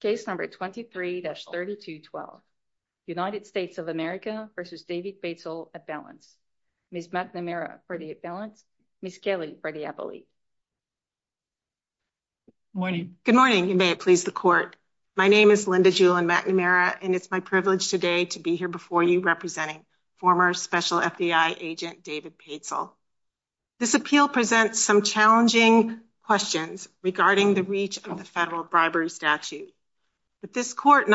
Case number 23-3212, United States of America v. David Paitsel, appellant. Ms. McNamara for the appellant, Ms. Kaley for the appellate. Good morning. Good morning, and may it please the court. My name is Linda Julen McNamara, and it's my privilege today to be here before you representing former special FDI agent David Paitsel. This appeal presents some challenging questions regarding the reach of the federal bribery statute. But this court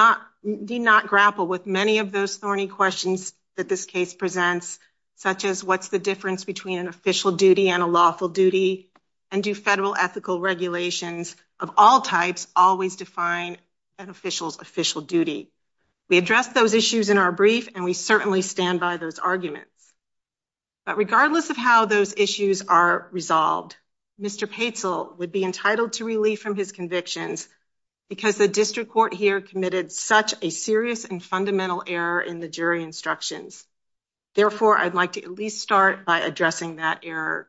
did not grapple with many of those thorny questions that this case presents, such as what's the difference between an official duty and a lawful duty, and do federal ethical regulations of all types always define an official's official duty? We those issues are resolved, Mr. Paitsel would be entitled to relief from his convictions because the district court here committed such a serious and fundamental error in the jury instructions. Therefore, I'd like to at least start by addressing that error.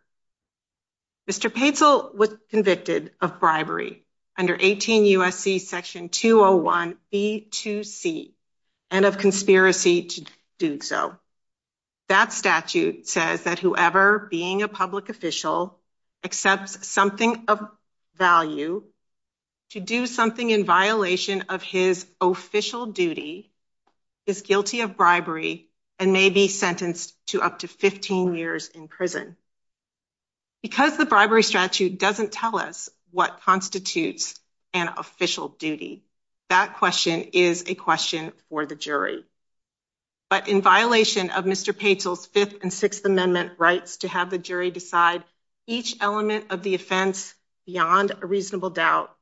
Mr. Paitsel was convicted of bribery under 18 U.S.C. section 201b2c and of conspiracy to do so. That statute says that whoever being a public official accepts something of value to do something in violation of his official duty is guilty of bribery and may be sentenced to up to 15 years in prison. Because the bribery statute doesn't tell us what constitutes an official duty, that question is a question for the jury. But in violation of Mr. Paitsel's Fifth and Sixth Amendment rights to have the jury decide each element of the offense beyond a reasonable doubt,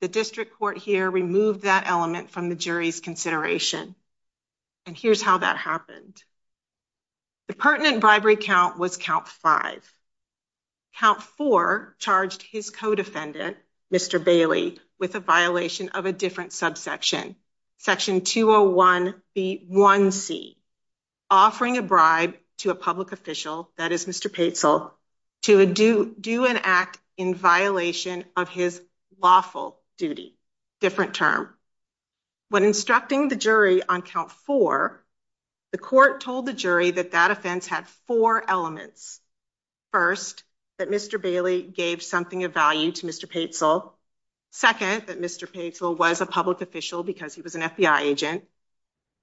the district court here removed that element from the jury's consideration. And here's how that happened. The pertinent bribery count was count five. Count four charged his co-defendant, Mr. Bailey, with a violation of a different subsection, section 201b1c, offering a bribe to a public official, that is Mr. Paitsel, to do an act in violation of his lawful duty. Different term. When instructing the jury on count four, the court told the jury that that offense had four elements. First, that Mr. Bailey gave something of value to Mr. Paitsel. Second, that Mr. Paitsel was a public official because he was an FBI agent.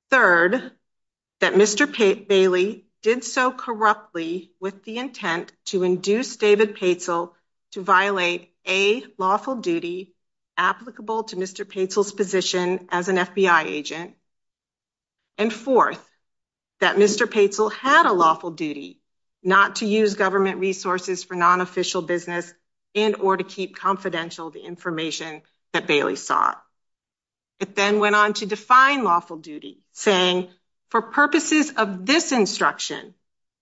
Third, that Mr. Bailey did so corruptly with the intent to induce David Paitsel to violate a lawful duty applicable to Mr. Paitsel's position as an FBI agent. And fourth, that Mr. Paitsel had a lawful duty not to use government resources for non-official business and or to keep confidential the information that Bailey sought. It then went on to define lawful duty, saying, for purposes of this instruction,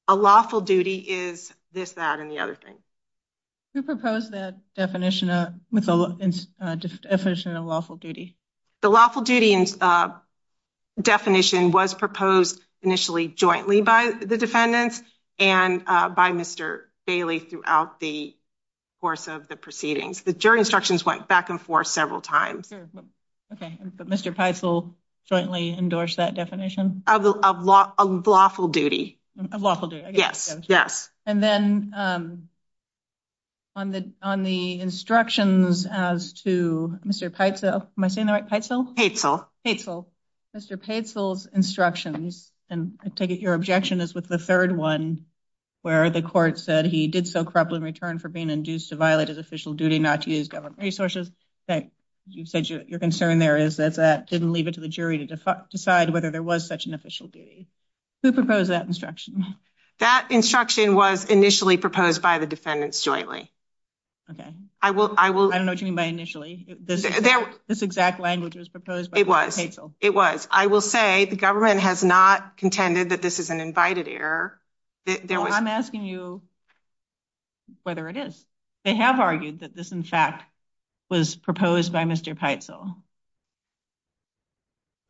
a lawful duty is this, that, and the other thing. Who proposed that definition of lawful duty? The lawful duty definition was proposed initially jointly by the defendants and by Mr. Bailey throughout the course of the proceedings. The jury instructions went back and forth several times. Okay, but Mr. Paitsel jointly endorsed that definition? Of lawful duty. Of lawful duty. Yes. And then on the instructions as to Mr. Paitsel, am I saying that right, Paitsel? Paitsel. Mr. Paitsel's instructions, and I take it your objection is with the third one, where the court said he did so corruptly in return for being induced to violate his official duty not to use government resources. You said your concern there is that that didn't leave it to the jury to decide whether there was such an official duty. Who proposed that instruction? That instruction was initially proposed by the defendants jointly. Okay. I don't know what you mean by initially. This exact language was proposed by Mr. Paitsel. It was. It was. I will say the government has not contended that this is an invited error. I'm asking you whether it is. They have argued that this, in fact, was proposed by Mr. Paitsel.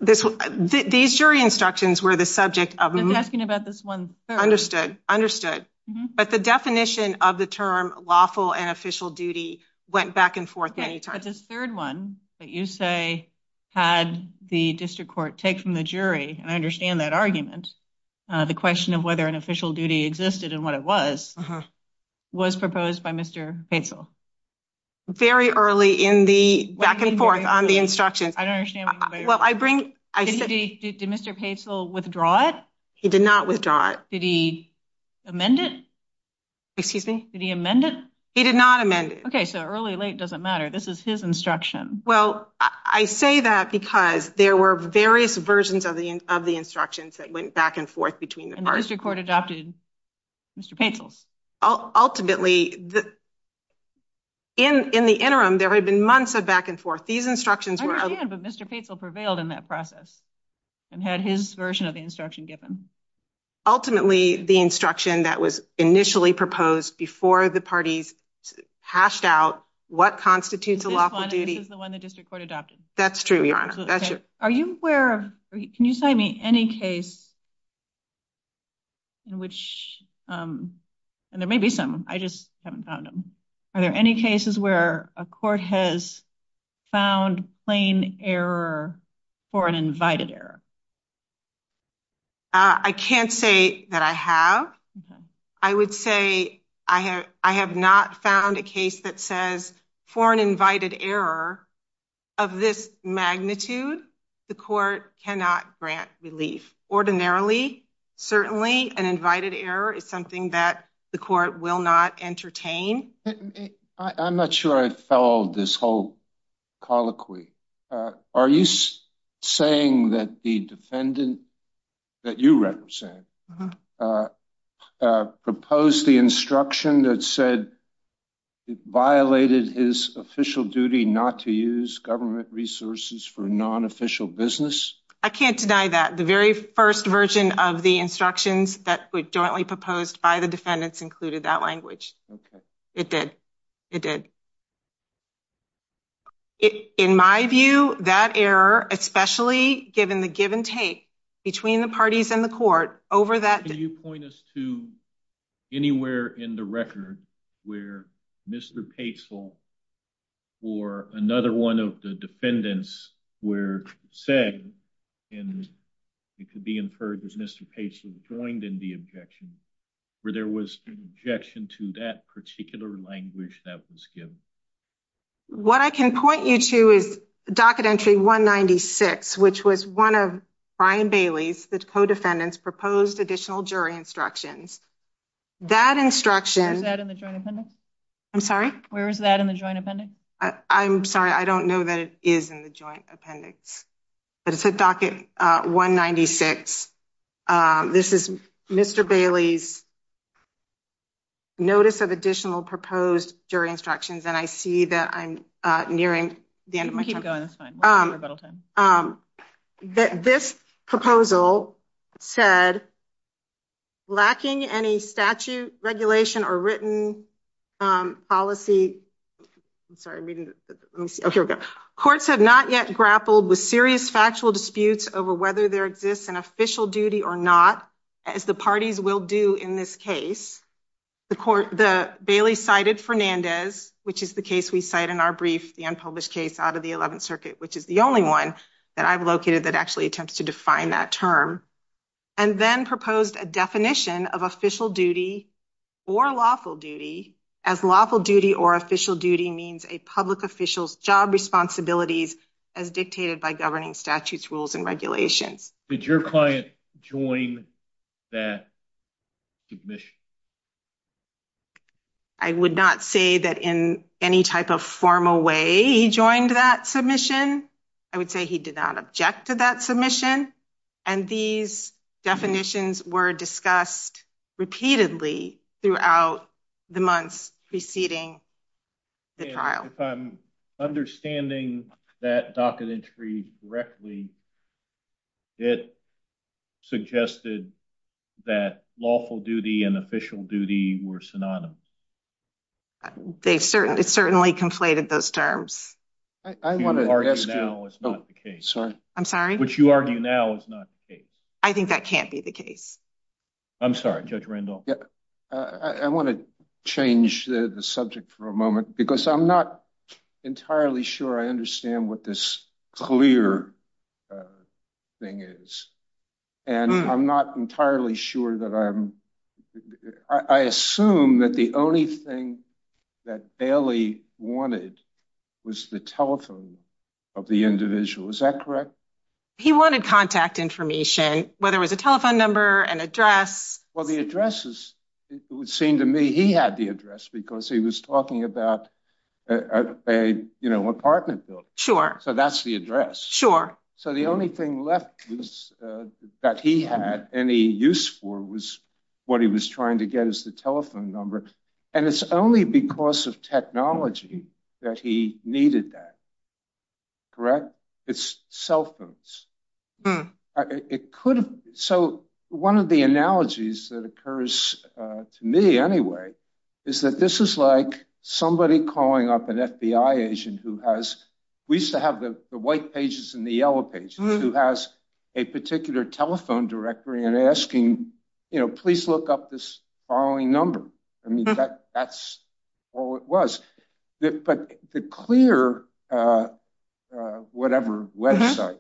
These jury instructions were the subject of the- I'm asking about this one. Understood. Understood. But the definition of the term lawful and official duty went back and forth many times. Right, but this third one that you say had the district court take from the jury and understand that argument, the question of whether an official duty existed and what it was, was proposed by Mr. Paitsel. Very early in the back and forth on the instruction. I don't understand. Well, I bring- Did Mr. Paitsel withdraw it? He did not withdraw it. Did he amend it? Excuse me? Did he amend it? He did not amend it. Okay, so early, late, doesn't matter. This is his instruction. Well, I say that because there were various versions of the instructions that went back and forth between the parties. And the district court adopted Mr. Paitsel's? Ultimately, in the interim, there had been months of back and forth. These instructions were- I understand, but Mr. Paitsel prevailed in that process and had his version of the instruction given. Ultimately, the instruction that was initially proposed before the parties hashed out what constitutes a lawful duty- This one, this is the one the district court adopted. That's true, Your Honor. That's true. Are you aware, can you tell me any case in which, and there may be some, I just haven't found them. Are there any cases where a court has found plain error for an invited error? I can't say that I have. I would say I have not found a case that says for an invited error of this magnitude, the court cannot grant relief. Ordinarily, certainly an invited error is something that the court will not entertain. I'm not sure I followed this whole colloquy. Are you saying that the defendant that you represent proposed the instruction that said it violated his official duty not to use government resources for non-official business? I can't deny that. The very first version of the instructions that was jointly proposed by the defendants included that language. It did. It did. In my view, that error, especially given the give and take between the parties and the court over that. Can you point us to anywhere in the record where Mr. Paisel or another one of the defendants were saying, and it could be inferred that Mr. Paisel joined in the objection, where there was an objection to that particular language that was given? What I can point you to is Docket Entry 196, which was one of Brian Bailey's, the co-defendant's, proposed additional jury instructions. That instruction... Is that in the joint appendix? I'm sorry? Where is that in the joint appendix? I'm sorry. I don't know that it is in the joint appendix. But it's at Docket 196. This is Mr. Bailey's notice of additional proposed jury instructions, and I see that I'm nearing the end of my time. Keep going. That's fine. We're about out of time. This proposal said, lacking any statute, regulation, or written policy... I'm sorry. Courts had not yet grappled with serious factual disputes over whether there exists an official duty or not, as the parties will do in this case. Bailey cited Fernandez, which is the case we cite in our brief, the unpublished case out of the 11th Circuit, which is the only one that I've located that actually attempts to define that term, and then proposed a definition of official duty or lawful duty, as lawful duty or official duty means a public official's job responsibilities as dictated by governing statutes, rules, and regulations. Did your client join that submission? I would not say that in any type of formal way he joined that submission. I would say he did not object to that submission, and these definitions were discussed repeatedly throughout the month preceding the trial. If I'm understanding that docket entry correctly, it suggested that lawful duty and official duty were synonymous. It certainly conflated those terms. I want to... I'm sorry? What you argue now is not the case. I think that can't be the case. I'm sorry, Judge Randolph. I want to change the subject for a moment, because I'm not entirely sure I understand what this clear thing is, and I'm not entirely sure that I'm... I assume that the only thing that Bailey wanted was the telephone of the individual. Is that correct? He wanted contact information, whether it was a telephone number, an address. Well, the addresses, it would seem to me he had address because he was talking about an apartment building, so that's the address. So, the only thing left that he had any use for was what he was trying to get as the telephone number, and it's only because of technology that he needed that. Correct? It's cell phones. It could... So, one of the analogies that occurs to me, anyway, is that this is like somebody calling up an FBI agent who has... We used to have the white pages and the yellow pages, who has a particular telephone directory and asking, you know, please look up this following number. I mean, that's all it was, but the clear whatever website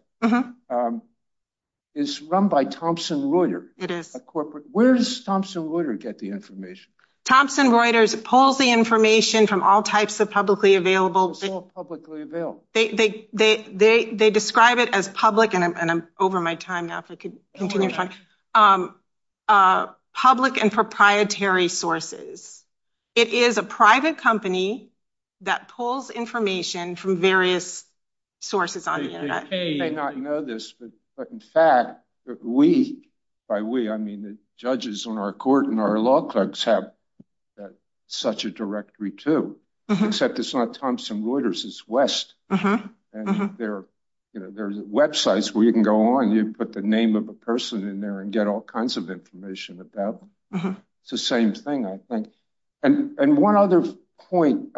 is run by Thomson Reuters, a corporate... Where does Thomson Reuters get the information? Thomson Reuters pulls the information from all types of publicly available... All publicly available. They describe it as public, and I'm over my sources. It is a private company that pulls information from various sources on the internet. They may not know this, but in fact, we, by we, I mean the judges on our court and our law clerks have such a directory too, except it's not Thomson Reuters, it's West, and there's websites where you can go on, you can put the name of a person in there and get all kinds of information about them. It's the same thing, I think. And one other point,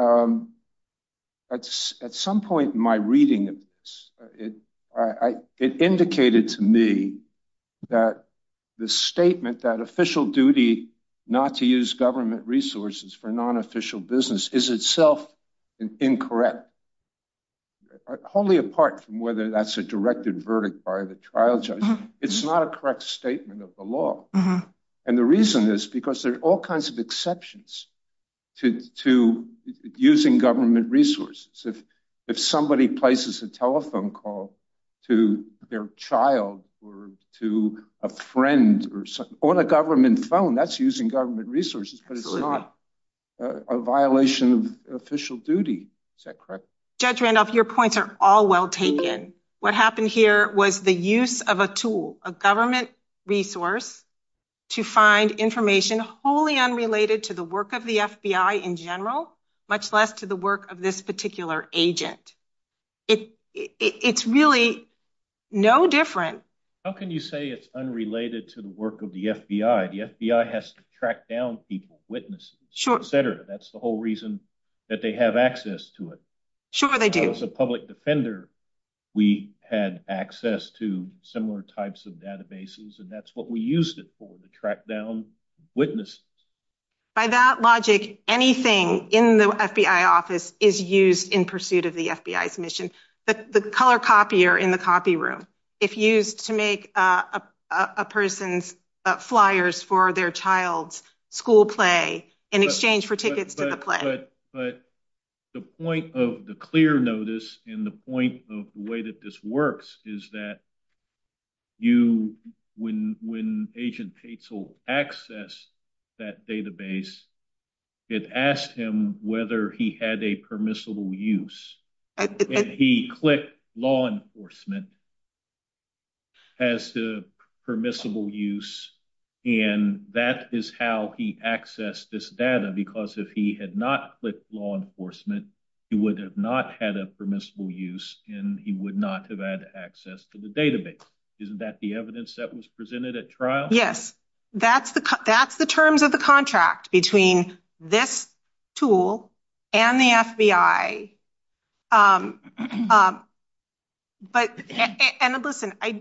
at some point in my reading, it indicated to me that the statement that official duty not to use government resources for non-official business is itself incorrect, wholly apart from whether that's a directed verdict by the trial judge. It's not a correct statement of the law. And the reason is because there are all kinds of exceptions to using government resources. If somebody places a telephone call to their child or to a friend on a government phone, that's using government resources, but it's not a violation of official duty. Is that correct? Judge Randolph, your points are all well taken. What happened here was the use of a tool, a government resource, to find information wholly unrelated to the work of the FBI in general, much less to the work of this particular agent. It's really no different. How can you say it's unrelated to the work of the FBI? The FBI has to track down people, witnesses, etc. That's the whole reason that they have access to it. Sure, they do. As a public defender, we had access to similar types of databases, and that's what we used it for, to track down witnesses. By that logic, anything in the FBI office is used in pursuit of the FBI's mission. The color copy are in the copy room. It's used to make a person's flyers for their child's school play in exchange for tickets to play. But the point of the clear notice, and the point of the way that this works, is that you, when Agent Petzl accessed that database, it asked him whether he had a permissible use. He clicked law enforcement as the permissible use, and that is how he accessed this data, because if he had not clicked law enforcement, he would have not had a permissible use, and he would not have had access to the database. Isn't that the evidence that was presented at trial? Yes. That's the terms of the contract between this tool and the FBI. Listen, I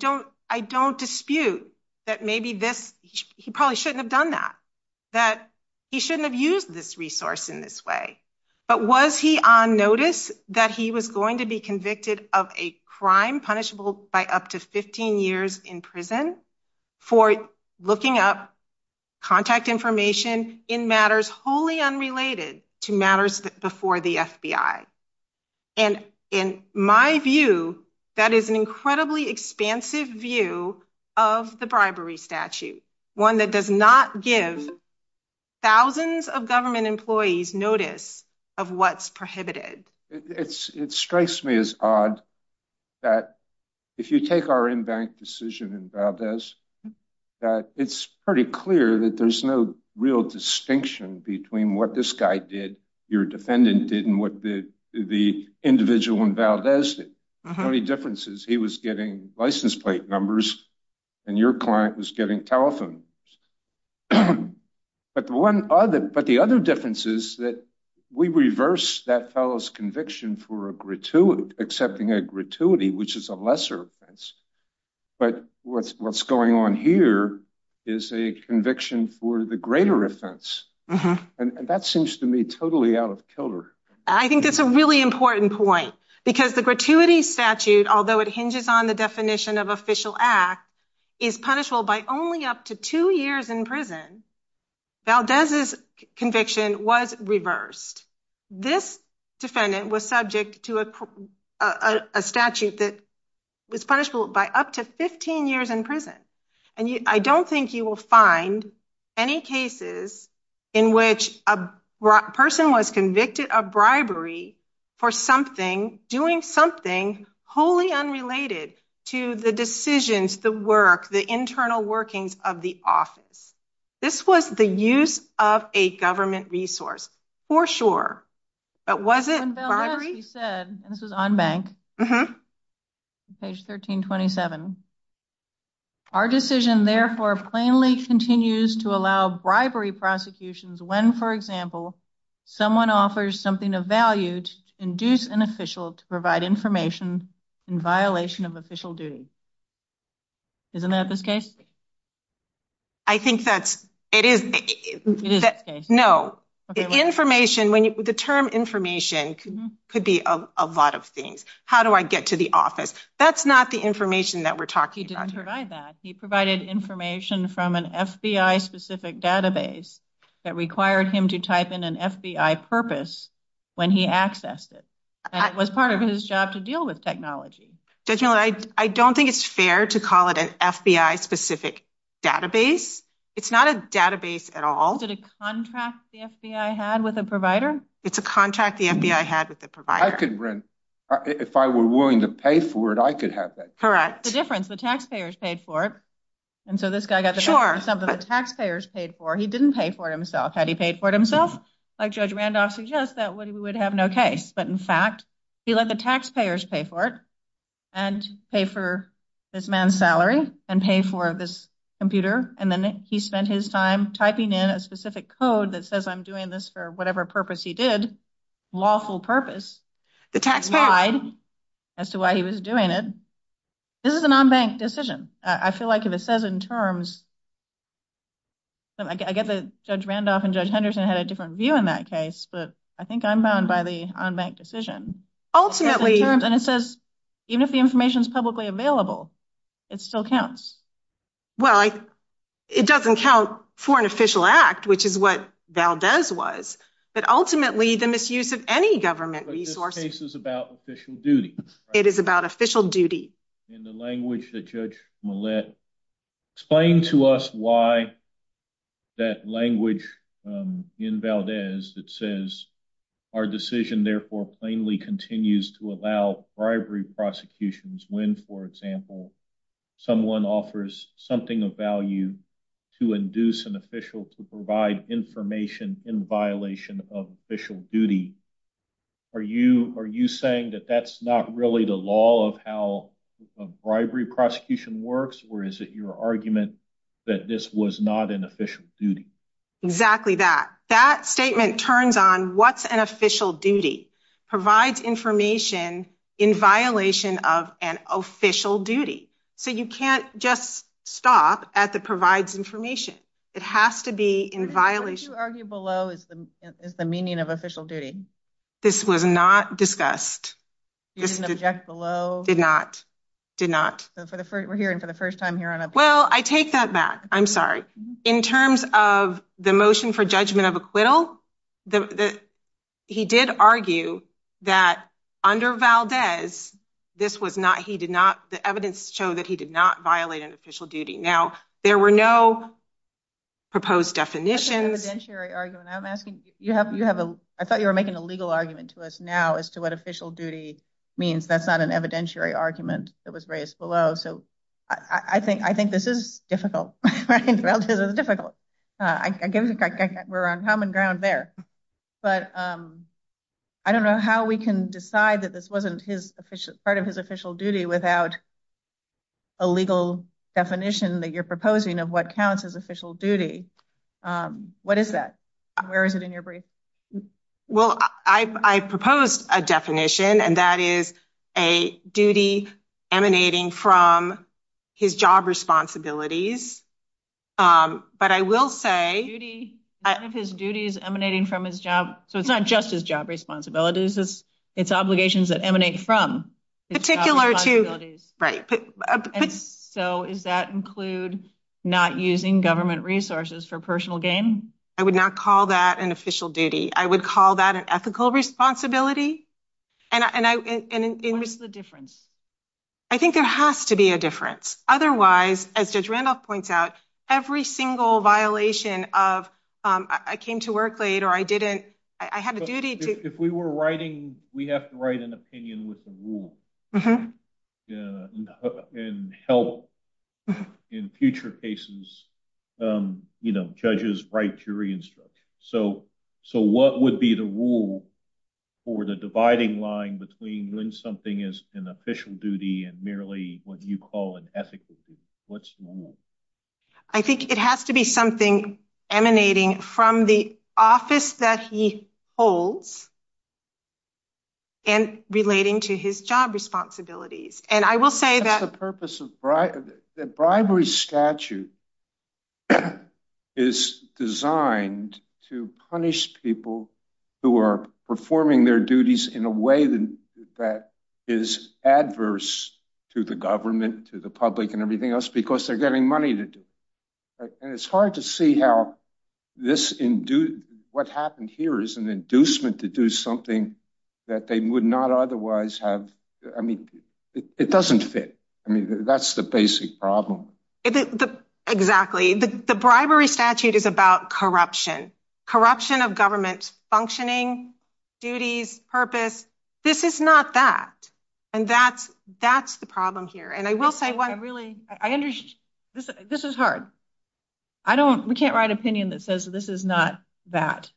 don't dispute that maybe he probably shouldn't have done that, that he shouldn't have used this resource in this way, but was he on notice that he was going to be convicted of a crime punishable by up to 15 years in prison for looking up contact information in matters wholly unrelated to matters before the FBI? And in my view, that is an incredibly expansive view of the bribery statute, one that does not give thousands of government employees notice of what's prohibited. It strikes me as odd that if you take our in-bank decision in Valdez, that it's pretty clear that there's no real distinction between what this guy did, your defendant did, and what the individual in Valdez did. The only difference is he was getting license plate numbers, and your client was getting telephone numbers. But the other difference is that we reverse that fellow's conviction for accepting a gratuity, which is a lesser offense, but what's going on here is a conviction for the greater offense, and that seems to me totally out of color. I think that's a really important point, because the gratuity statute, although it hinges on the definition of official act, is punishable by only up to two years in prison. Valdez's conviction was reversed. This defendant was subject to a statute that was punishable by up to 15 years in prison, and I don't think you will find any cases in which a person was convicted of bribery for something, doing something wholly unrelated to the decisions, the work, the internal workings of the office. This was the use of a government resource, for sure, but was it bribery? This is on bank, page 1327. Our decision, therefore, plainly continues to allow bribery prosecutions when, for example, someone offers something of value to induce an official to provide information in violation of official duty. Isn't that this case? I think that's, it is. No, the information, when the term information could be a lot of things. How do I get to the office? That's not information that we're talking about. He didn't provide that. He provided information from an FBI specific database that required him to type in an FBI purpose when he accessed it, and it was part of his job to deal with technology. Judge Miller, I don't think it's fair to call it an FBI specific database. It's not a database at all. Did a contract the FBI had with a provider? It's a contract the FBI had with a provider. I could rent, if I were willing to pay for it, I could have that. Correct. The difference, the taxpayers paid for it, and so this guy got the job, but the taxpayers paid for it. He didn't pay for it himself. Had he paid for it himself, like Judge Randolph suggests, that way we would have no case, but in fact, he let the taxpayers pay for it, and pay for this man's salary, and pay for this computer, and then he spent his time typing in a specific code that says I'm doing this for whatever purpose he did, lawful purpose, the taxpayer lied as to why he was doing it. This is an unbanked decision. I feel like if it says in terms, I get that Judge Randolph and Judge Henderson had a different view in that case, but I think I'm bound by the unbanked decision, and it says even if the information is publicly available, it still counts. Well, it doesn't count for an official act, which is what Valdez was, but ultimately the misuse of any government resources. This case is about official duty. It is about official duty. In the language that Judge Millett explained to us why that language in Valdez that says our decision therefore plainly continues to allow bribery prosecutions when, for example, someone offers something of value to induce an official to provide information in violation of official duty. Are you saying that that's not really the law of how a bribery prosecution works, or is it your argument that this was not an official duty? Exactly that. That statement turns on what's an official duty. Provides information in violation of an official duty. So you can't just stop at the provides information. It has to be in violation. What you argue below is the meaning of official duty. This was not discussed. You didn't object below? Did not. Did not. So for the first, we're hearing for the first time Well, I take that back. I'm sorry. In terms of the motion for judgment of acquittal, he did argue that under Valdez, the evidence showed that he did not violate an official duty. Now, there were no proposed definitions. I thought you were making a legal argument to us now as to what official duty means. That's not an evidentiary argument that was raised below. So I think this is difficult. I guess we're on common ground there. But I don't know how we can decide that this wasn't part of his official duty without a legal definition that you're proposing of what counts as official duty. What is that? Where is it in your brief? Well, I propose a definition, and that is a duty emanating from his job responsibilities. But I will say his duties emanating from his job. So it's not just his job responsibilities. It's obligations that emanate from particular to right. So is that include not using government resources for personal gain? I would not call that an official duty. I would call that an ethical responsibility. And what's the difference? I think there has to be a difference. Otherwise, as Judge Randolph points out, every single violation of I came to work late or I didn't, I had a duty to... If we were writing, we'd have to write an opinion with the rule and help in future cases, judges write jury instructions. So what would be the rule for the dividing line between when something is an official duty and merely what you call an ethical duty? What's the rule? I think it has to be something emanating from the office that he holds and relating to his job responsibilities. The bribery statute is designed to punish people who are performing their duties in a way that is adverse to the government, to the public and everything else, because they're getting money and it's hard to see how this... What happened here is an inducement to do something that they would not otherwise have... I mean, it doesn't fit. I mean, that's the basic problem. Exactly. The bribery statute is about corruption, corruption of government functioning, duties, purpose. This is not that. And that's the problem here. And I will say one... I understand. This is hard. We can't write opinion that says this is not that.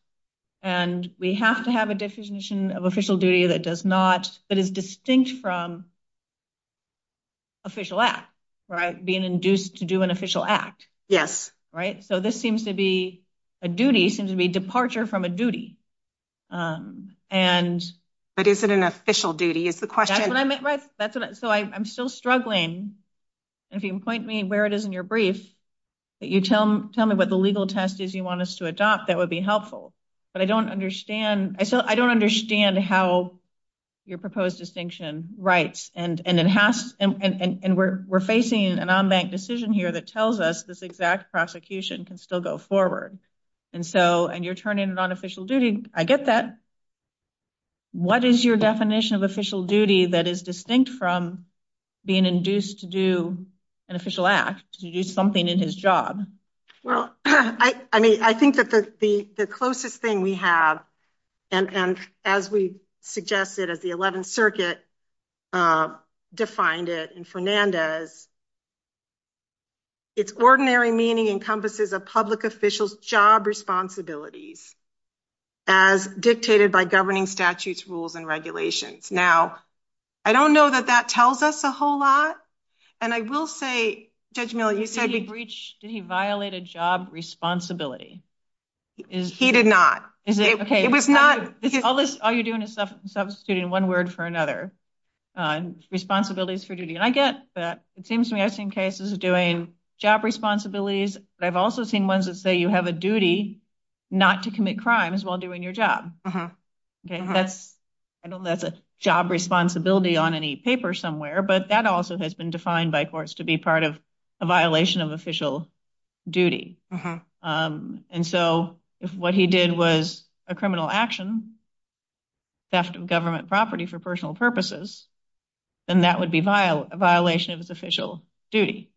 And we have to have a definition of official duty that is distinct from official act, right? Being induced to do an official act. Yes. Right? So this seems to be a duty, seems to be departure from a duty. But is it an official duty? That's what I meant. So I'm still struggling and if you can point me where it is in your brief, but you tell me what the legal test is you want us to adopt, that would be helpful. But I don't understand how your proposed distinction writes. And we're facing an unbanked decision here that tells us this exact prosecution can still go forward. And you're turning it on official duty. I get that. What is your definition of official duty that is distinct from being induced to do an official act, to do something in his job? Well, I mean, I think that the closest thing we have, and as we suggested, as the 11th circuit defined it in Fernandez, its ordinary meaning encompasses a public official's responsibilities as dictated by governing statutes, rules, and regulations. Now, I don't know that that tells us a whole lot. And I will say, Judge Miller, you said you've reached, did he violate a job responsibility? He did not. Okay. All you're doing is substituting one word for another. Responsibilities for duty. And I get that. It seems to me I've seen cases doing job responsibilities, but I've also seen ones that say you have a duty not to commit crimes while doing your job. Okay. I don't know if that's a job responsibility on any paper somewhere, but that also has been defined by courts to be part of a violation of official duty. And so if what he did was a criminal action, theft of government property for personal purposes, then that would be a violation of his official duty.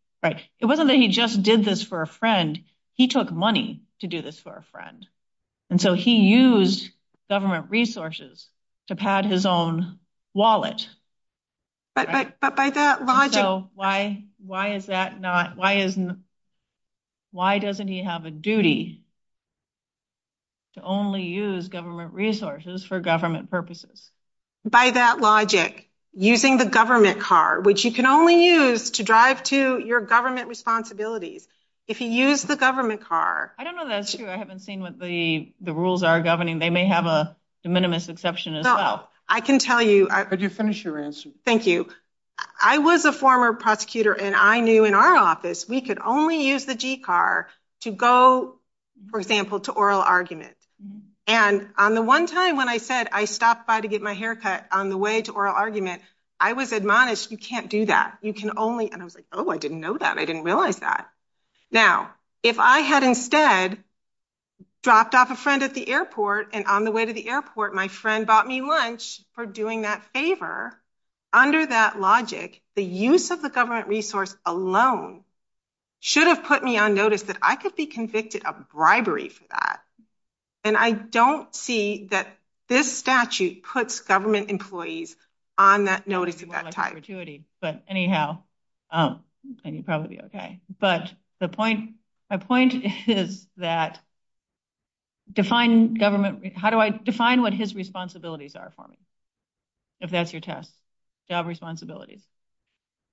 It wasn't that he just did this for a friend. He took money to do this for a friend. And so he used government resources to pad his own wallet. So why doesn't he have a duty to only use government resources for government purposes? By that logic, using the government car, which you can only use to drive to your government responsibilities. If you use the government car... I don't know that's true. I haven't seen what the rules are governing. They may have a de minimis exception as well. I can tell you... I'll just finish your answer. Thank you. I was a former prosecutor and I knew in our office, we could only use the G-car to go, for example, to oral arguments. And on the time when I said I stopped by to get my hair cut on the way to oral arguments, I was admonished, you can't do that. You can only... And I was like, oh, I didn't know that. I didn't realize that. Now, if I had instead dropped off a friend at the airport and on the way to the airport, my friend bought me lunch for doing that favor, under that logic, the use of the government resource alone should have put me on notice that I could be convicted of bribery for that. And I don't see that this statute puts government employees on that notice at that time. ...but anyhow, you'll probably be okay. But the point is that define government... How do I define what his responsibilities are for me? If that's your test, job responsibilities.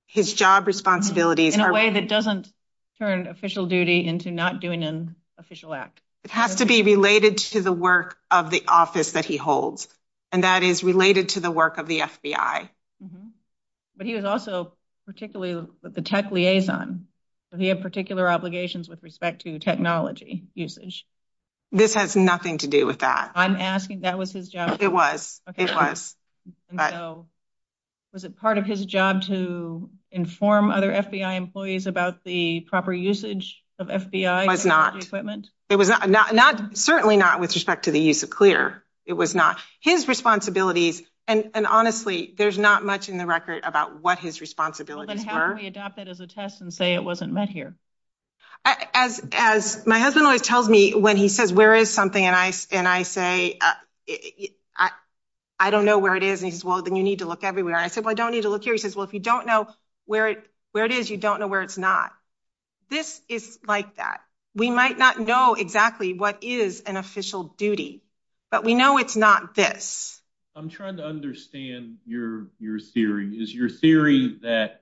His job responsibilities... In a way that doesn't turn official duty into not doing an official act. It has to be related to the work of the office that he holds, and that is related to the work of the FBI. But he was also particularly with the tech liaison. He had particular obligations with respect to technology usage. This has nothing to do with that. I'm asking, that was his job. It was. It was. Was it part of his job to inform other FBI employees about the proper usage of FBI equipment? It was certainly not with respect to the use of clear. It was not. His responsibilities, and honestly, there's not much in the record about what his responsibilities were. Then how do we adopt that as a test and say it wasn't met here? As my husband always tells me when he says, where is something? And I say, I don't know where it is. And he says, well, then you need to look everywhere. I said, well, I don't need to look here. He says, well, if you don't know where it is, you don't know where it's not. This is like that. We might not know exactly what is an official duty, but we know it's not this. I'm trying to understand your theory. Is your theory that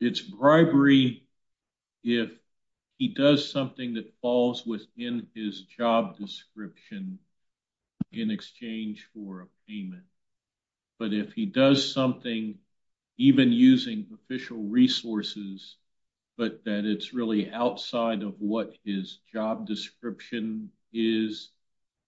it's bribery if he does something that falls within his job description in exchange for a payment? But if he does something, even using official resources, but that it's really outside of what his job description is,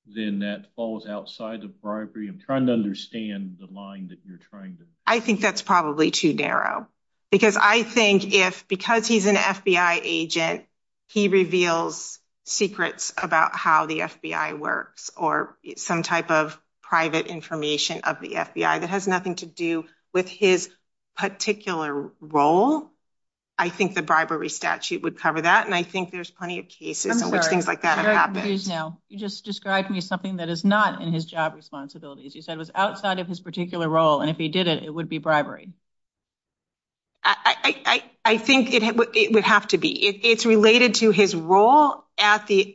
then that falls outside of bribery. I'm trying to understand the line that you're trying to make. I think that's probably too narrow. Because I think if, because he's an FBI agent, he reveals secrets about how the FBI works or some type of private information of the FBI that has nothing to do with his particular role. I think the bribery statute would cover that. And I think there's plenty of cases in which things like that have happened. I'm sorry, you just described me something that is not in his job responsibilities. You said it was outside of his particular role. And if he did it, it would be bribery. I think it would have to be. It's related to his role at the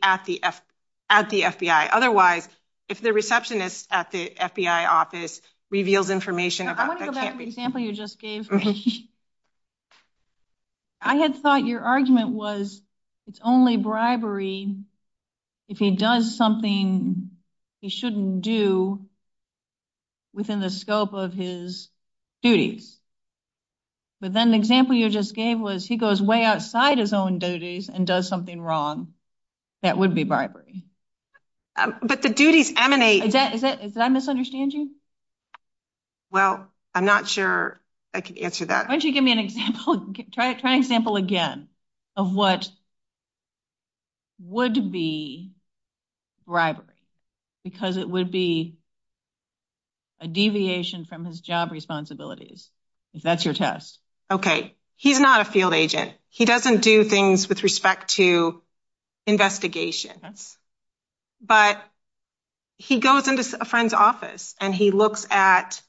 FBI. Otherwise, if the receptionist at the FBI office reveals information. I want to go back to the example you just gave. I had thought your argument was it's only bribery if he does something he shouldn't do within the scope of his duties. But then the example you just gave was he goes way outside his own duties and does something wrong. That would be bribery. But the duties emanate. Did I misunderstand you? Well, I'm not sure I can answer that. Why don't you give me an example? Try an example again of what would be bribery. Because it would be a deviation from his job responsibilities. If that's your test. Okay. He's not a field agent. He doesn't do things with respect to investigation. But he goes into a friend's office and he looks at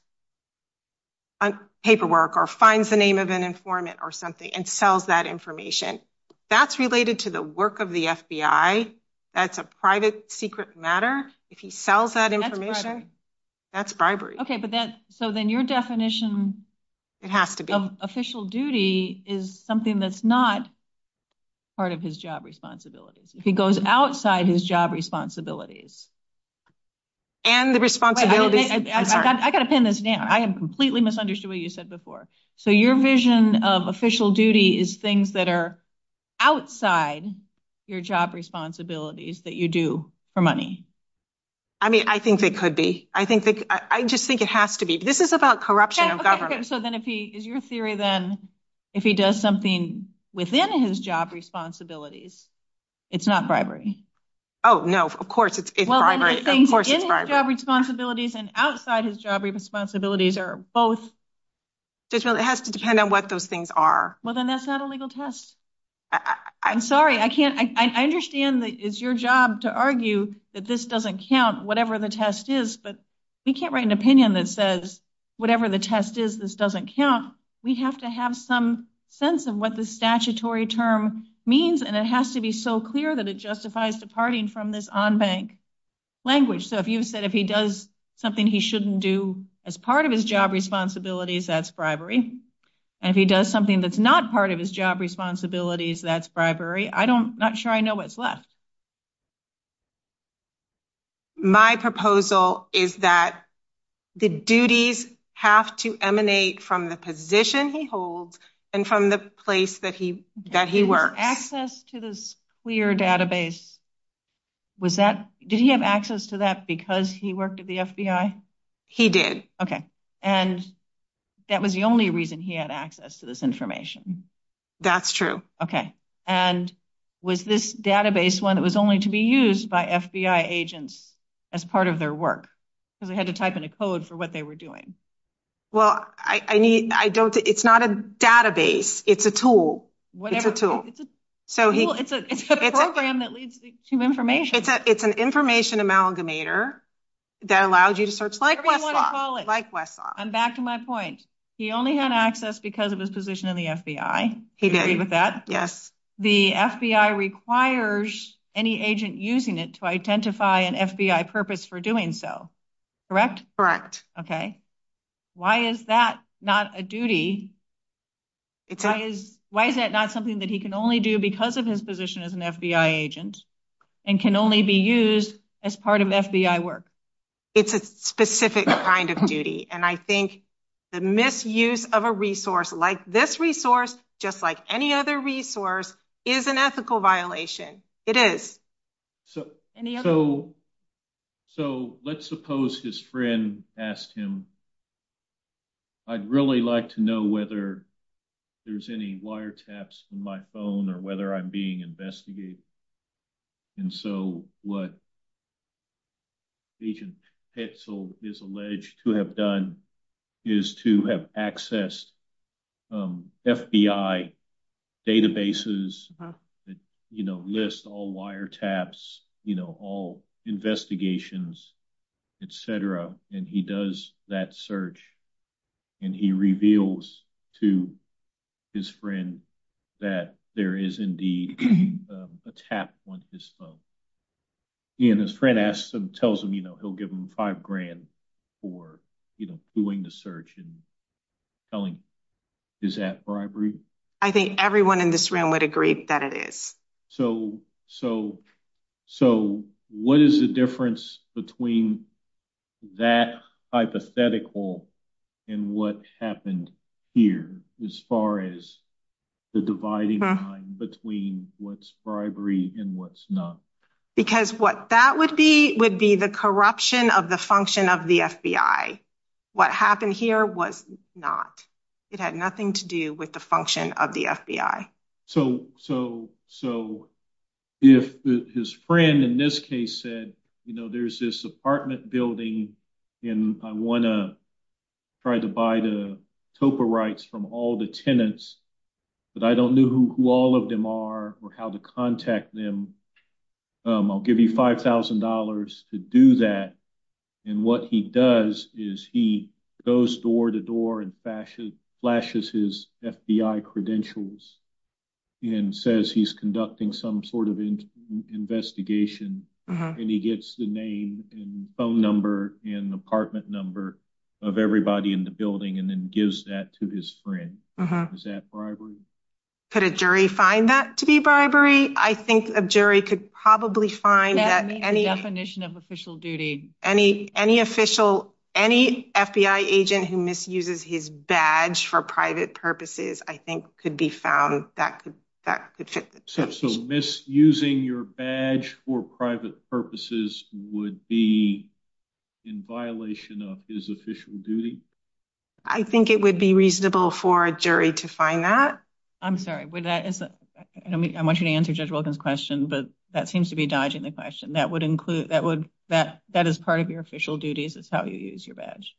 a paperwork or finds the name of an informant or something and sells that information. That's related to the work of the FBI. That's a private secret matter. If he sells that information, that's bribery. Okay. So then your definition of official duty is something that's not part of his job responsibilities. If he goes outside his job responsibilities. And the responsibility... I got to pin this down. I have completely misunderstood what you said before. So your vision of official duty is things that are outside your job responsibilities that you do for money. I mean, I think it could be. I just think it has to be. This is about corruption of government. So then if he... Is your theory then if he does something within his job responsibilities, it's not bribery? Oh, no. Of course, it's bribery. Of course, it's bribery. In his job responsibilities and outside his job responsibilities are both... It has to depend on what those things are. Well, then that's not a legal test. I'm sorry. I understand that it's your job to argue that this doesn't count, whatever the test is. But we can't write an opinion that says whatever the test is, this doesn't count. We have to have some sense of what the statutory term means, and it has to be so clear that it justifies departing from this on-bank language. So if you said if he does something he shouldn't do as part of his job responsibilities, that's And if he does something that's not part of his job responsibilities, that's bribery. I'm not sure I know what's left. My proposal is that the duties have to emanate from the position he holds and from the place that he works. Access to this clear database. Did he have access to that because he worked at the FBI? He did. And that was the only reason he had access to this information. That's true. Okay. And was this database one that was only to be used by FBI agents as part of their work? Because we had to type in a code for what they were doing. Well, it's not a database. It's a tool. It's a program that leads to information. It's an information amalgamator that allows you to search like Westlaw. And back to my point, he only had access because of his position in the FBI. Do you agree with that? Yes. The FBI requires any agent using it to identify an FBI purpose for doing so. Correct? Correct. Okay. Why is that not a duty? Why is that not something that he can only do because of his position as an FBI agent and can only be used as part of FBI work? It's a specific kind of duty. And I think the misuse of a resource like this resource, just like any other resource, is an ethical violation. It is. So let's suppose his friend asked him, I'd really like to know whether there's any wiretaps in my phone or whether I'm being investigated. And so what Agent Petzl is alleged to have done is to have accessed FBI databases that list all wiretaps, all investigations, etc. And he does that search and he reveals to his friend that there is indeed a tap on his phone. And his friend asks him, tells him, you know, he'll give him five grand for doing the search and telling him, is that bribery? I think everyone in this room would agree that it is. So what is the difference between that hypothetical and what happened here as far as the dividing line between what's bribery and what's not? Because what that would be would be the corruption of the function of the FBI. What happened here was not. It had nothing to do with the function of the FBI. So if his friend in this case said, you know, there's this apartment building and I want to try to buy the TOPA rights from all the tenants, but I don't know who all of them are or how to contact them. I'll give you $5,000 to do that. And what he does is he goes door to door and flashes his FBI credentials and says he's conducting some sort of investigation. And he gets the name and phone number and apartment number of everybody in the building and then gives that to his friend. Is that bribery? Could a jury find that to be bribery? I think a jury could probably find that any definition of official duty, any FBI agent who misuses his badge for private purposes, I think could be found that could fit. So misusing your badge for private purposes would be in violation of his official duty? I think it would be reasonable for a jury to find that. I'm sorry, I want you to answer Judge Wilkins' question, but that seems to be a diagnostic question. That is part of your official duties is how you use your badge.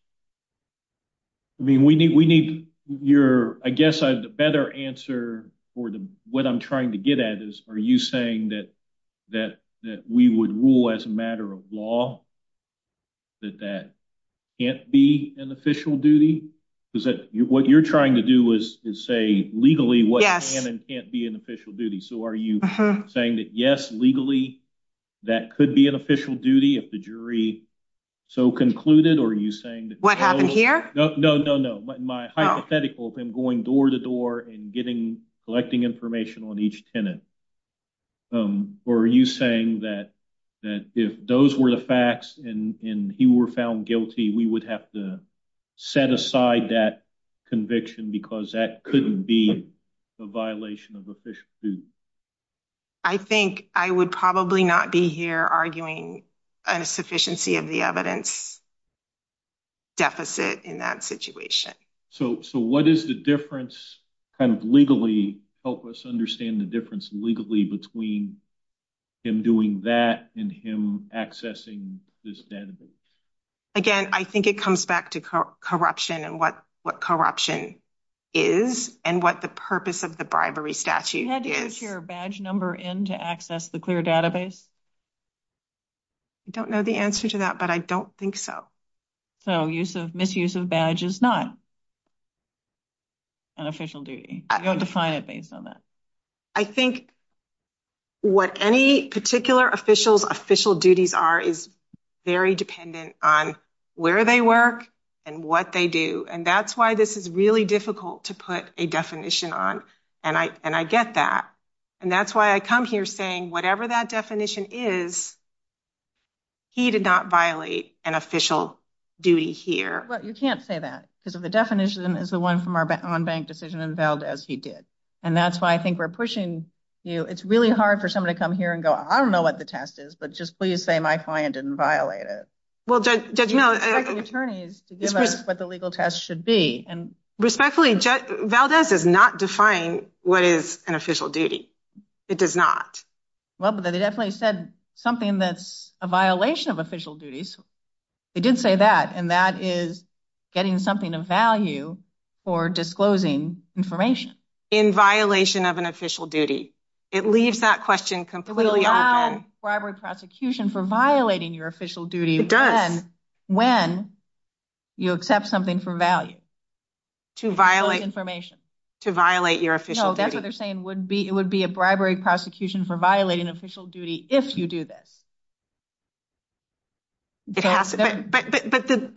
I mean, I guess I have a better answer for what I'm trying to get at is, are you saying that we would rule as a matter of law that that can't be an official duty? Is that what you're trying to do is say legally what can and can't be an official duty? So are you saying that yes, legally, that could be an official duty if the jury so concluded? Or are you saying that what happened here? No, no, no, no. My hypothetical of him going door to door and getting, collecting information on each tenant. Or are you saying that if those were the facts and he were found guilty, we would have to set aside that conviction because that couldn't be a violation of official duty? I think I would probably not be here arguing a sufficiency of the evidence deficit in that situation. So what is the difference kind of legally, help us understand the difference legally between him doing that and him accessing this database? Again, I think it comes back to corruption and what, what corruption is and what the purpose of the bribery statute. You had to put your badge number in to access the clear database. I don't know the answer to that, but I don't think so. So use of misuse of badge is not an official duty. I don't define it based on that. I think what any particular official's official duties are is very dependent on where they work and what they do. And that's why this is really difficult to put a definition on. And I, and I get that. And that's why I come here saying, whatever that definition is. He did not violate an official duty here. But you can't say that because of the definition is the one from our on bank decision unveiled as he did. And that's why I think we're pushing you. It's really hard for somebody to come here and go, I don't know what the test is, but just please say my client didn't violate it. Well, there's no attorneys to give us what the legal test should be. And respectfully, Valdez is not defying what is an official duty. It does not. Well, they definitely said something that's a violation of official duties. They did say that. And that is getting something of value for disclosing information. In violation of an official duty. It leaves that question completely. We'll have a prosecution for violating your official duty. When you accept something for value. To violate information. To violate your official. That's what they're saying would be. It would be a bribery prosecution for violating official duty. If you do that. But the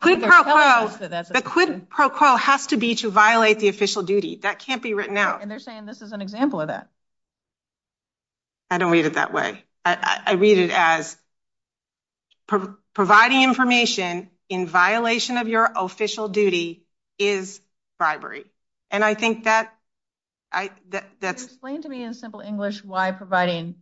quid pro quo, the quid pro quo has to be to violate the official duty. That can't be written out. And they're saying this is an example of that. I don't read it that way. I read it as. Providing information in violation of your official duty is bribery. And I think that. That's explained to me in simple English. Why providing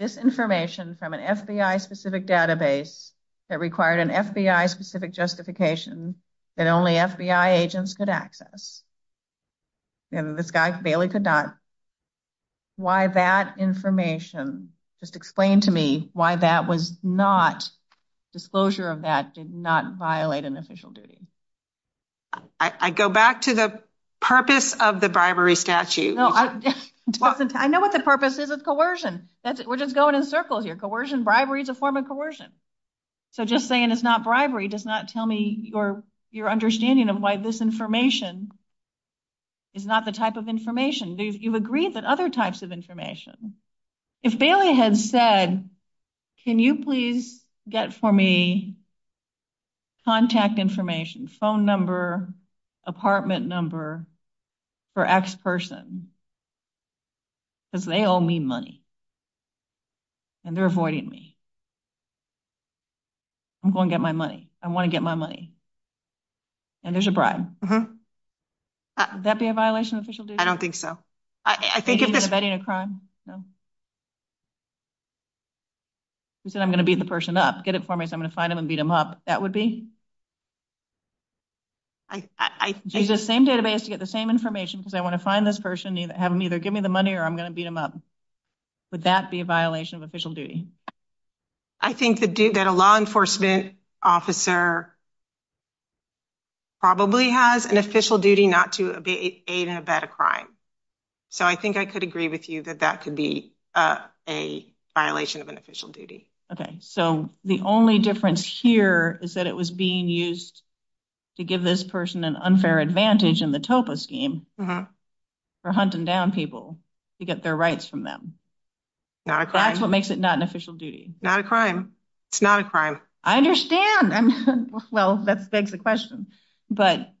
this information from an FBI specific database. That required an FBI specific justification that only FBI agents could access. And this guy's Bailey could not. Why that information just explain to me why that was not. Disclosure of that did not violate an official duty. I go back to the purpose of the bribery statute. I know what the purpose is. It's coercion. We're just going in circles here. Coercion bribery is a form of coercion. So just saying it's not bribery does not tell me your. Understanding of why this information. Is not the type of information you've agreed that other types of information. If Bailey had said. Can you please get for me. Contact information phone number. Apartment number. For X person. Because they owe me money. And they're avoiding me. I'm going to get my money. I want to get my money. And there's a bribe. That'd be a violation of official. I don't think so. I think. You said I'm going to be the person that get it for me. I'm going to find him and beat him up. That would be. I do the same database to get the same information because I want to find this person. Have them either give me the money or I'm going to beat him up. Would that be a violation of official duty? I think to do that a law enforcement officer. Probably has an official duty not to a better crime. So, I think I could agree with you that that could be a violation of an official duty. Okay, so the only difference here is that it was being used. To give this person an unfair advantage in the topo scheme. For hunting down people to get their rights from them. Not a crime. That's what makes it not an official duty. Not a crime. It's not a crime. I understand. Well, that begs the question, but.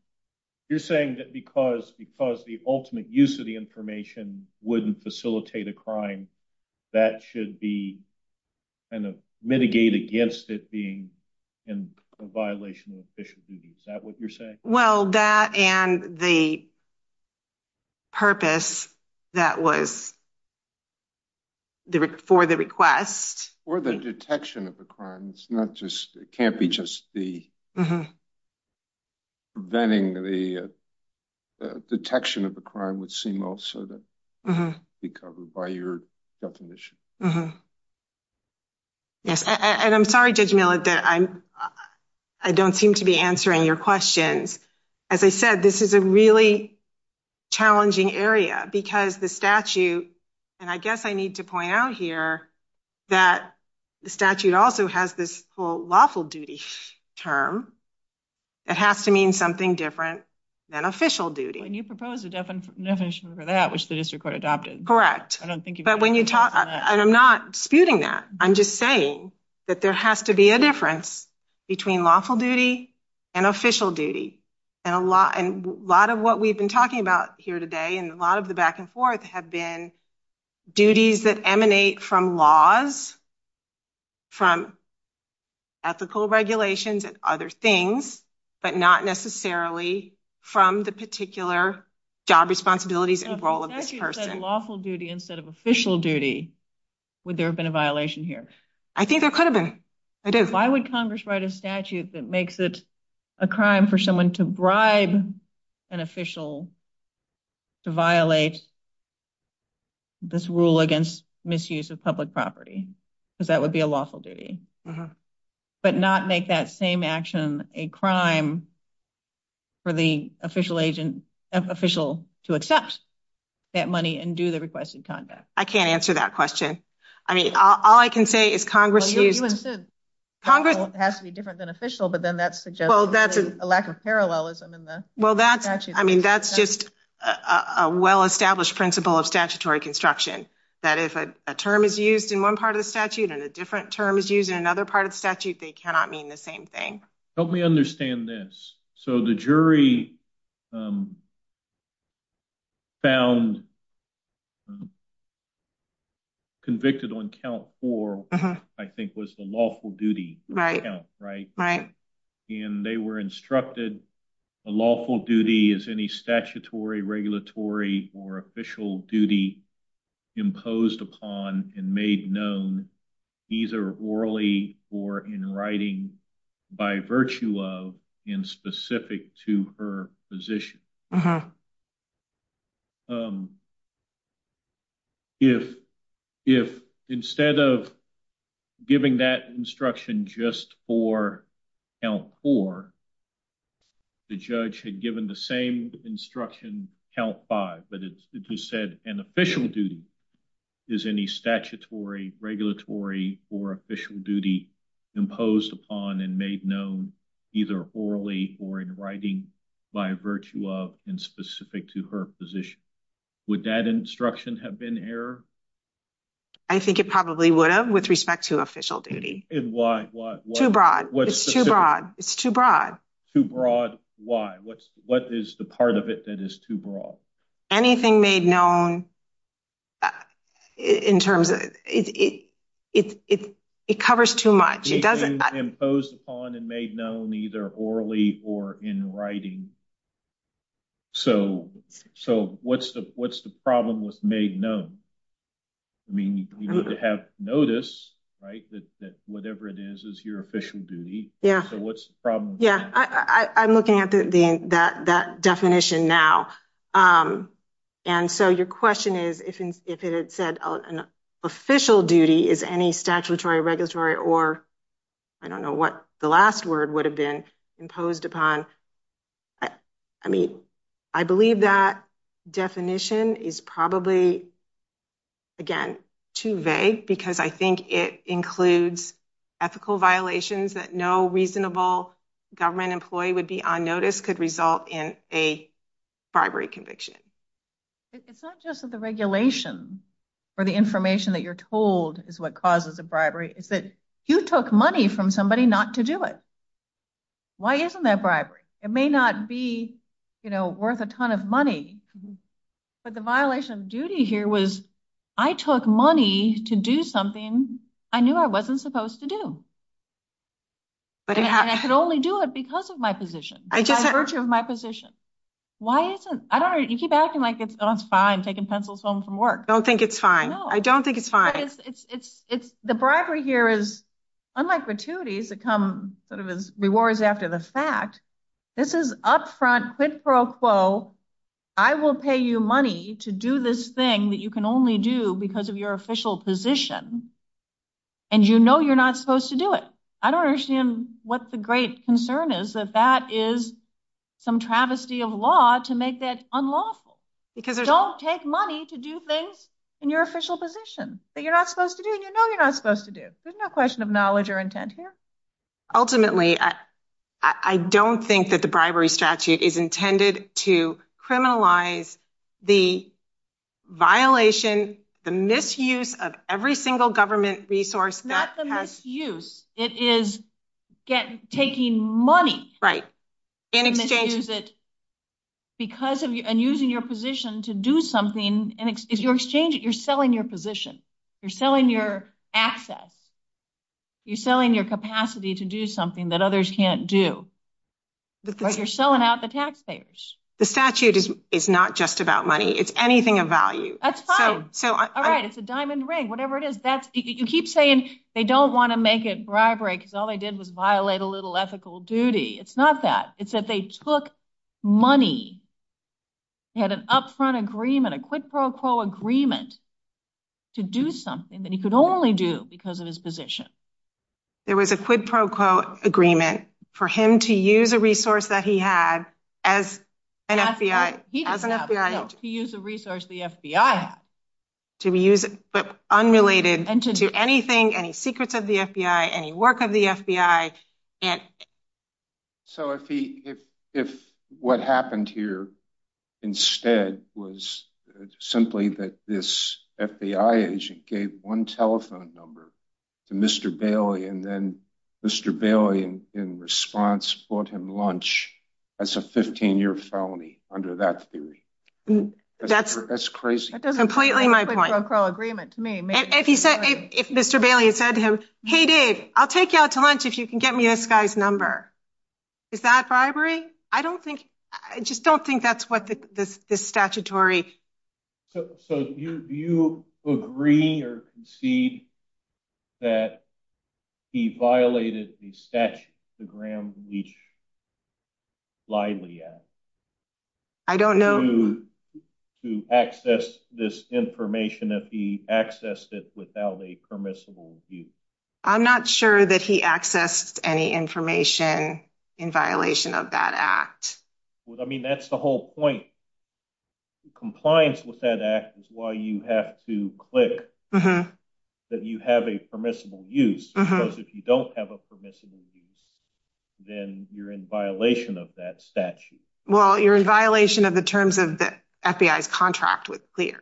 You're saying that because, because the ultimate use of the information wouldn't facilitate a crime that should be kind of mitigate against it being in a violation of official duty. Is that what you're saying? Well, that and the. Purpose that was. For the request. Or the detection of the crime. It's not just it can't be just the. Preventing the detection of the crime would seem also. Be covered by your definition. Yes, and I'm sorry, did you know that I'm. I don't seem to be answering your questions. As I said, this is a really. Challenging area because the statute. And I guess I need to point out here. That the statute also has this lawful duty term. It has to mean something different than official duty. And you propose a definition for that, which the district court adopted. I don't think, but when you talk, I'm not spewing that. I'm just saying that there has to be a difference. Between lawful duty and official duty. And a lot and a lot of what we've been talking about here today. And a lot of the back and forth have been. Duties that emanate from laws. From ethical regulations and other things. But not necessarily from the particular. Job responsibilities and role of lawful duty instead of official duty. Would there have been a violation here? I think I could have been. Why would Congress write a statute that makes it. A crime for someone to bribe an official. To violate. This rule against misuse of public property. Because that would be a lawful duty. But not make that same action a crime. For the official agent official to accept. That money and do the requested conduct. I can't answer that question. I mean, all I can say is Congress. Congress has to be different than official. But then that's well, that's a lack of parallelism in the. Well, that's actually, I mean, that's just. A well established principle of statutory construction. That if a term is used in one part of the statute. And a different term is used in another part of the statute. They cannot mean the same thing. Help me understand this. So the jury. Found. Convicted on count for. I think was the lawful duty. Right. And they were instructed. The lawful duty is any statutory regulatory. Or official duty. Imposed upon and made known. Either orally or in writing. By virtue of in specific to her position. If instead of giving that instruction, just for count for the judge had given the same instruction count five, but he said an official duty is any statutory regulatory or official duty imposed upon and made known either orally or in writing by virtue of the lawful duty. In specific to her position. Would that instruction have been error? I think it probably would have with respect to official duty. And why? It's too broad. It's too broad. Why? What's what is the part of it that is too broad? Anything made known. In terms of it, it, it, it, it covers too much. It doesn't impose upon and made known either orally or in writing. So, so what's the, what's the problem with made? No. I mean, you have notice, right? That whatever it is, is your official duty. Yeah. So, what's the problem? Yeah, I'm looking at that definition now. And so your question is, if it had said an official duty is any statutory regulatory or. I don't know what the last word would have been imposed upon. But I mean, I believe that definition is probably. Again, too vague because I think it includes. Ethical violations that no reasonable government employee would be on notice could result in a bribery conviction. It's not just the regulation. For the information that you're told is what causes the bribery is that you took money from somebody not to do it. Why isn't that bribery? It may not be worth a ton of money. But the violation of duty here was I took money to do something. I knew I wasn't supposed to do. But I should only do it because of my position, my position. Why is it? I don't know. You keep acting like it's fine taking pencils home from work. I don't think it's fine. I don't think it's fine. The bribery here is unlike gratuity to come sort of as rewards after the fact. This is up front quid pro quo. I will pay you money to do this thing that you can only do because of your official position. And, you know, you're not supposed to do it. I don't understand what the great concern is that that is some travesty of law to make that unlawful because they don't take money to do things in your official position. But you're not supposed to do it. You know you're not supposed to do it. There's no question of knowledge or intent here. Ultimately, I don't think that the bribery statute is intended to criminalize the violation, the misuse of every single government resource. Not the misuse. It is taking money. Right. In exchange. Because of and using your position to do something and if you exchange it, you're selling your position. You're selling your access. You're selling your capacity to do something that others can't do. But you're selling out the taxpayers. The statute is not just about money. It's anything of value. That's fine. So, all right. It's a diamond ring. Whatever it is, that's you keep saying they don't want to make it bribery because all they did was violate a little ethical duty. It's not that. It's that they took money. They had an upfront agreement, a quid pro quo agreement to do something that he could only do because of his position. There was a quid pro quo agreement for him to use a resource that he had as an FBI. To use a resource the FBI has. To be used but unrelated to anything, any secrets of the FBI, any work of the FBI. So, if what happened here instead was simply that this FBI agent gave one telephone number to Mr. Bailey and then Mr. Bailey in response bought him lunch as a 15-year felony under that theory, that's crazy. That's completely my point. That doesn't sound like a quid pro quo agreement to me. If Mr. Bailey had said to him, hey, dude, I'll take you out to lunch if you can get me this guy's number. Is that bribery? I don't think, I just don't think that's what the statutory. So, do you agree or concede that he violated the statute to ground Leach lightly? I don't know. So, to access this information that he accessed it without a permissible use. I'm not sure that he accessed any information in violation of that act. I mean, that's the whole point. Compliance with that act is why you have to click that you have a permissible use. If you don't have a permissible use, then you're in violation of that statute. Well, you're in violation of the terms of the FBI's contract with Leach.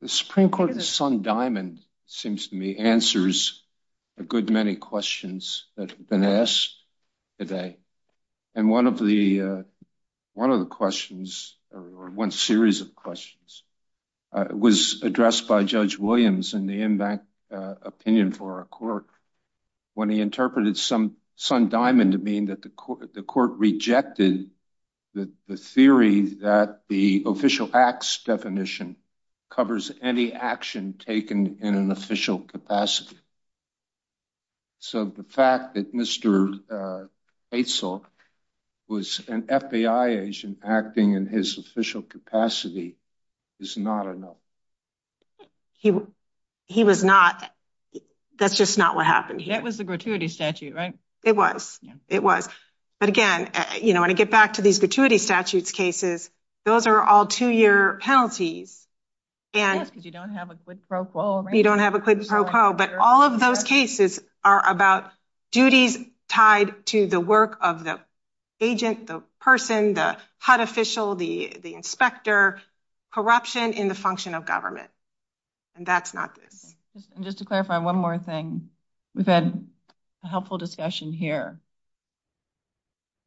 The Supreme Court's Sun Diamond, seems to me, answers a good many questions that have been asked today. And one of the questions, or one series of questions, was addressed by Judge Williams in the impact opinion for our court when he interpreted Sun Diamond to mean that the court rejected the theory that the official acts definition covers any action taken in an official capacity. So, the fact that Mr. Haysalk was an FBI agent acting in his official capacity is not enough. He was not. That's just not what happened. That was the gratuity statute, right? It was. It was. But again, you know, when I get back to these gratuity statute cases, those are all two year penalties. Yes, because you don't have a quid pro quo, right? You don't have a quid pro quo, but all of those cases are about duties tied to the work of the agent, the person, the HUD official, the inspector, corruption in the function of government. And that's not good. Just to clarify one more thing. We've had a helpful discussion here.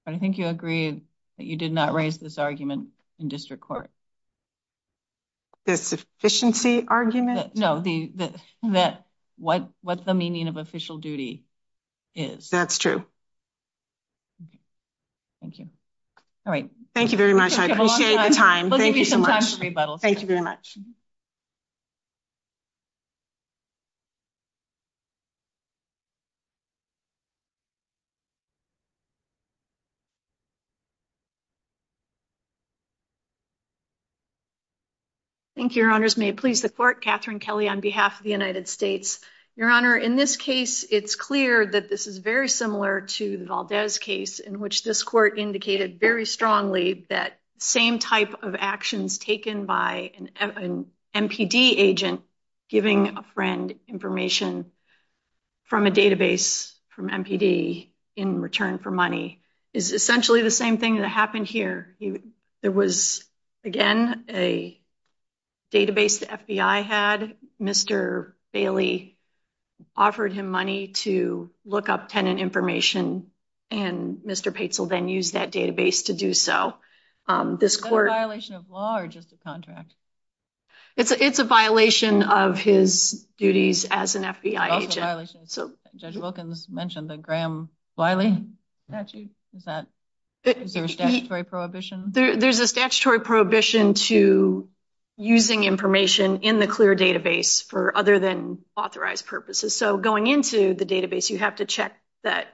But I think you agree that you did not raise this argument in district court. The sufficiency argument? No, that what the meaning of official duty is. That's true. Thank you. All right. Thank you very much. I appreciate my time. Thank you so much. Thank you very much. Thank you, your honors. May it please the court, Catherine Kelly on behalf of the United States. Your honor, in this case, it's clear that this is very similar to the Valdez case in which this court indicated very strongly that same type of actions taken by an MPD agent, giving a friend information from a database from MPD in return for money. It's essentially the same thing that happened here. There was, again, a database the FBI had. Mr. Bailey offered him money to look up tenant information. And Mr. Pates will then use that database to do so. This court- Is that a violation of law or just a contract? It's a violation of his duties as an FBI agent. Judge Wilkins mentioned the Graham-Wiley statute. There's a statutory prohibition to using information in the clear database for other than authorized purposes. So going into the database, you have to check that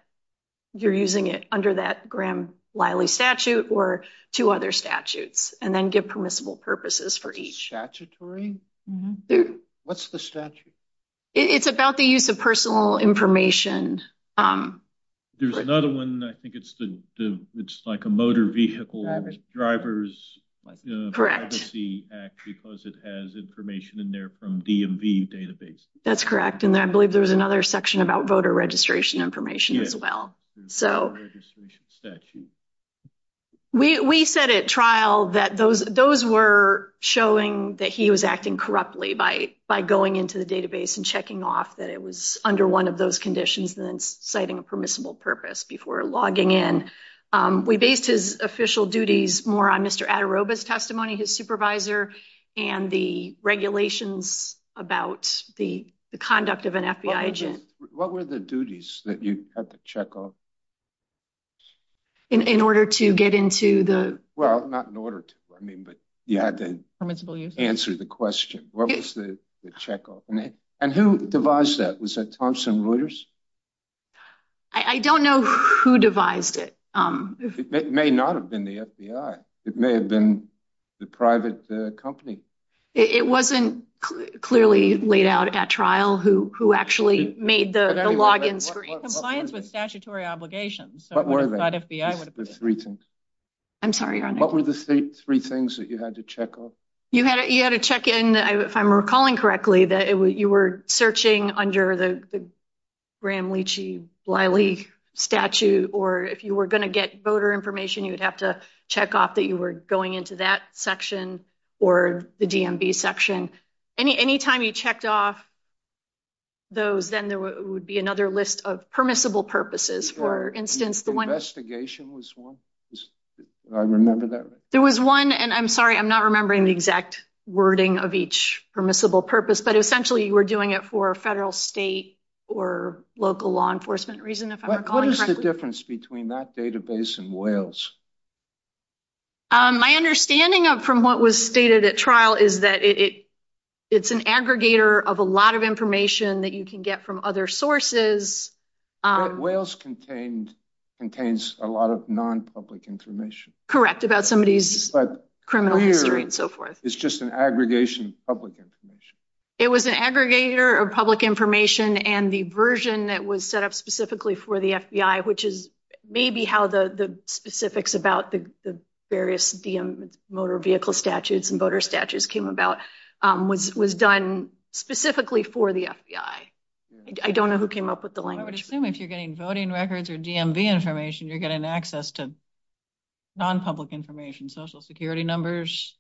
you're using it under that Graham-Wiley statute or two other statutes and then give permissible purposes for each. Statutory? What's the statute? It's about the use of personal information. There's another one. I think it's like a motor vehicle driver's privacy act because it has information in there from DMV database. That's correct. And I believe there was another section about voter registration information as well. We said at trial that those were showing that he was acting corruptly by going into the database and checking off that it was under one of those conditions and then citing a permissible purpose before logging in. We based his official duties more on Mr. Adoroba's testimony, his supervisor, and the regulations about the conduct of an FBI agent. What were the duties that you had to check off? In order to get into the- Well, not in order to. I mean, but yeah, I didn't answer the question. What was the checkoff? And who devised that? Was that Thompson Reuters? I don't know who devised it. It may not have been the FBI. It may have been the private company. It wasn't clearly laid out at trial who actually made the login screen. Compliance with statutory obligations. So it was not FBI. The three things. I'm sorry. What were the three things that you had to check off? You had to check in, if I'm recalling correctly, that you were searching under the Graham-Leachy-Bliley statute. Or if you were going to get voter information, you would have to check off that you were going into that section or the DMV section. Anytime you checked off those, then there would be another list of permissible purposes. For instance, the one- Investigation was one. I remember that. I'm sorry. I'm not remembering the exact wording of each permissible purpose. But essentially, you were doing it for federal, state, or local law enforcement reason, if I'm recalling correctly. What is the difference between that database and Wales? My understanding from what was stated at trial is that it's an aggregator of a lot of information that you can get from other sources. Wales contains a lot of non-public information. Correct, about somebody's criminal history and so forth. It's just an aggregation of public information. It was an aggregator of public information. And the version that was set up specifically for the FBI, which is maybe how the specifics about the various DM motor vehicle statutes and voter statutes came about, was done specifically for the FBI. I don't know who came up with the language. I would assume if you're getting voting records or DMV information, you're getting access to non-public information, social security numbers.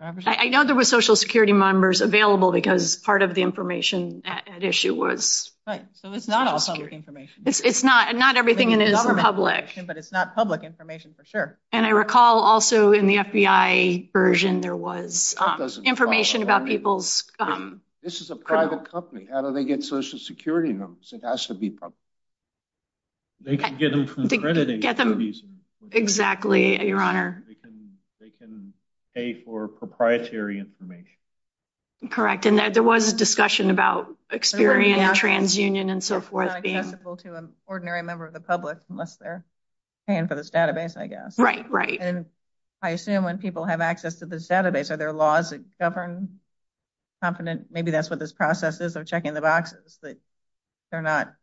I know there were social security numbers available because part of the information at issue was... Right. So it's not all public information. It's not. Not everything in it is public. But it's not public information for sure. And I recall also in the FBI version, there was information about people's... This is a private company. How do they get social security numbers? It has to be public. They can get them from accrediting agencies. Exactly, Your Honor. They can pay for proprietary information. Correct. And there was a discussion about experience, transunion, and so forth. It's not accessible to an ordinary member of the public unless they're paying for this database, I guess. Right, right. And I assume when people have access to this database, are there laws that govern confident... Maybe that's what this process is of checking the boxes. They're not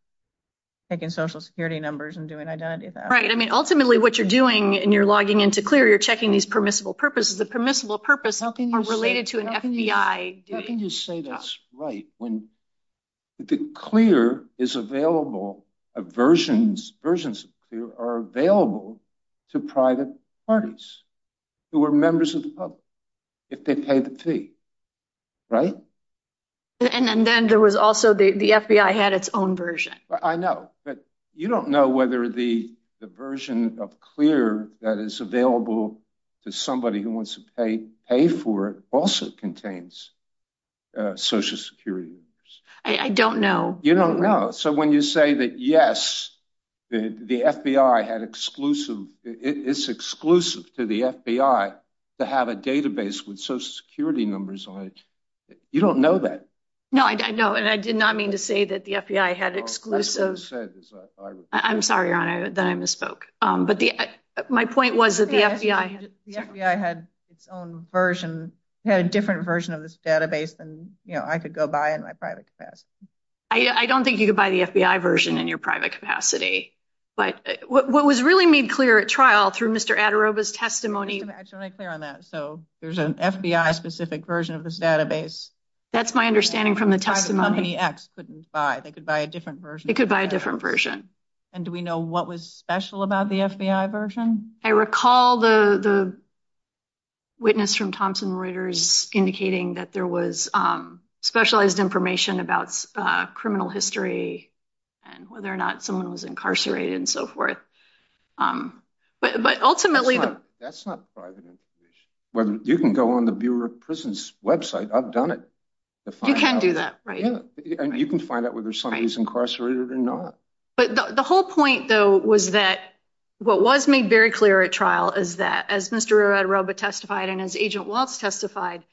taking social security numbers and doing identity theft. Right. I mean, ultimately, what you're doing and you're logging into CLEAR, you're checking these permissible purposes. The permissible purpose are related to an FBI... How can you say that's right when the CLEAR is available, versions of CLEAR are available to private parties who are members of the public if they pay the fee, right? And then there was also the FBI had its own version. I know, but you don't know whether the version of CLEAR that is available to somebody who wants to pay for it also contains social security numbers. I don't know. You don't know. So when you say that, yes, the FBI had exclusive... It's exclusive to the FBI to have a database with social security numbers on it. You don't know that. No, I know. And I did not mean to say that the FBI had exclusive... I'm sorry, Your Honor, that I misspoke. But my point was that the FBI had... The FBI had its own version, had a different version of this database than I could go buy in my private capacity. I don't think you could buy the FBI version in your private capacity. But what was really made clear at trial through Mr. Adaroba's testimony... Can I clear on that? There's an FBI-specific version of this database. That's my understanding from the testimony. The company X couldn't buy. They could buy a different version. They could buy a different version. And do we know what was special about the FBI version? I recall the witness from Thompson Reuters indicating that there was specialized information about criminal history and whether or not someone was incarcerated and so forth. But ultimately... That's not private information. You can go on the Bureau of Prisons' website. I've done it. You can't do that, right? You can find out whether somebody's incarcerated or not. But the whole point, though, was that what was made very clear at trial is that as Mr. Adaroba testified and as Agent Walts testified,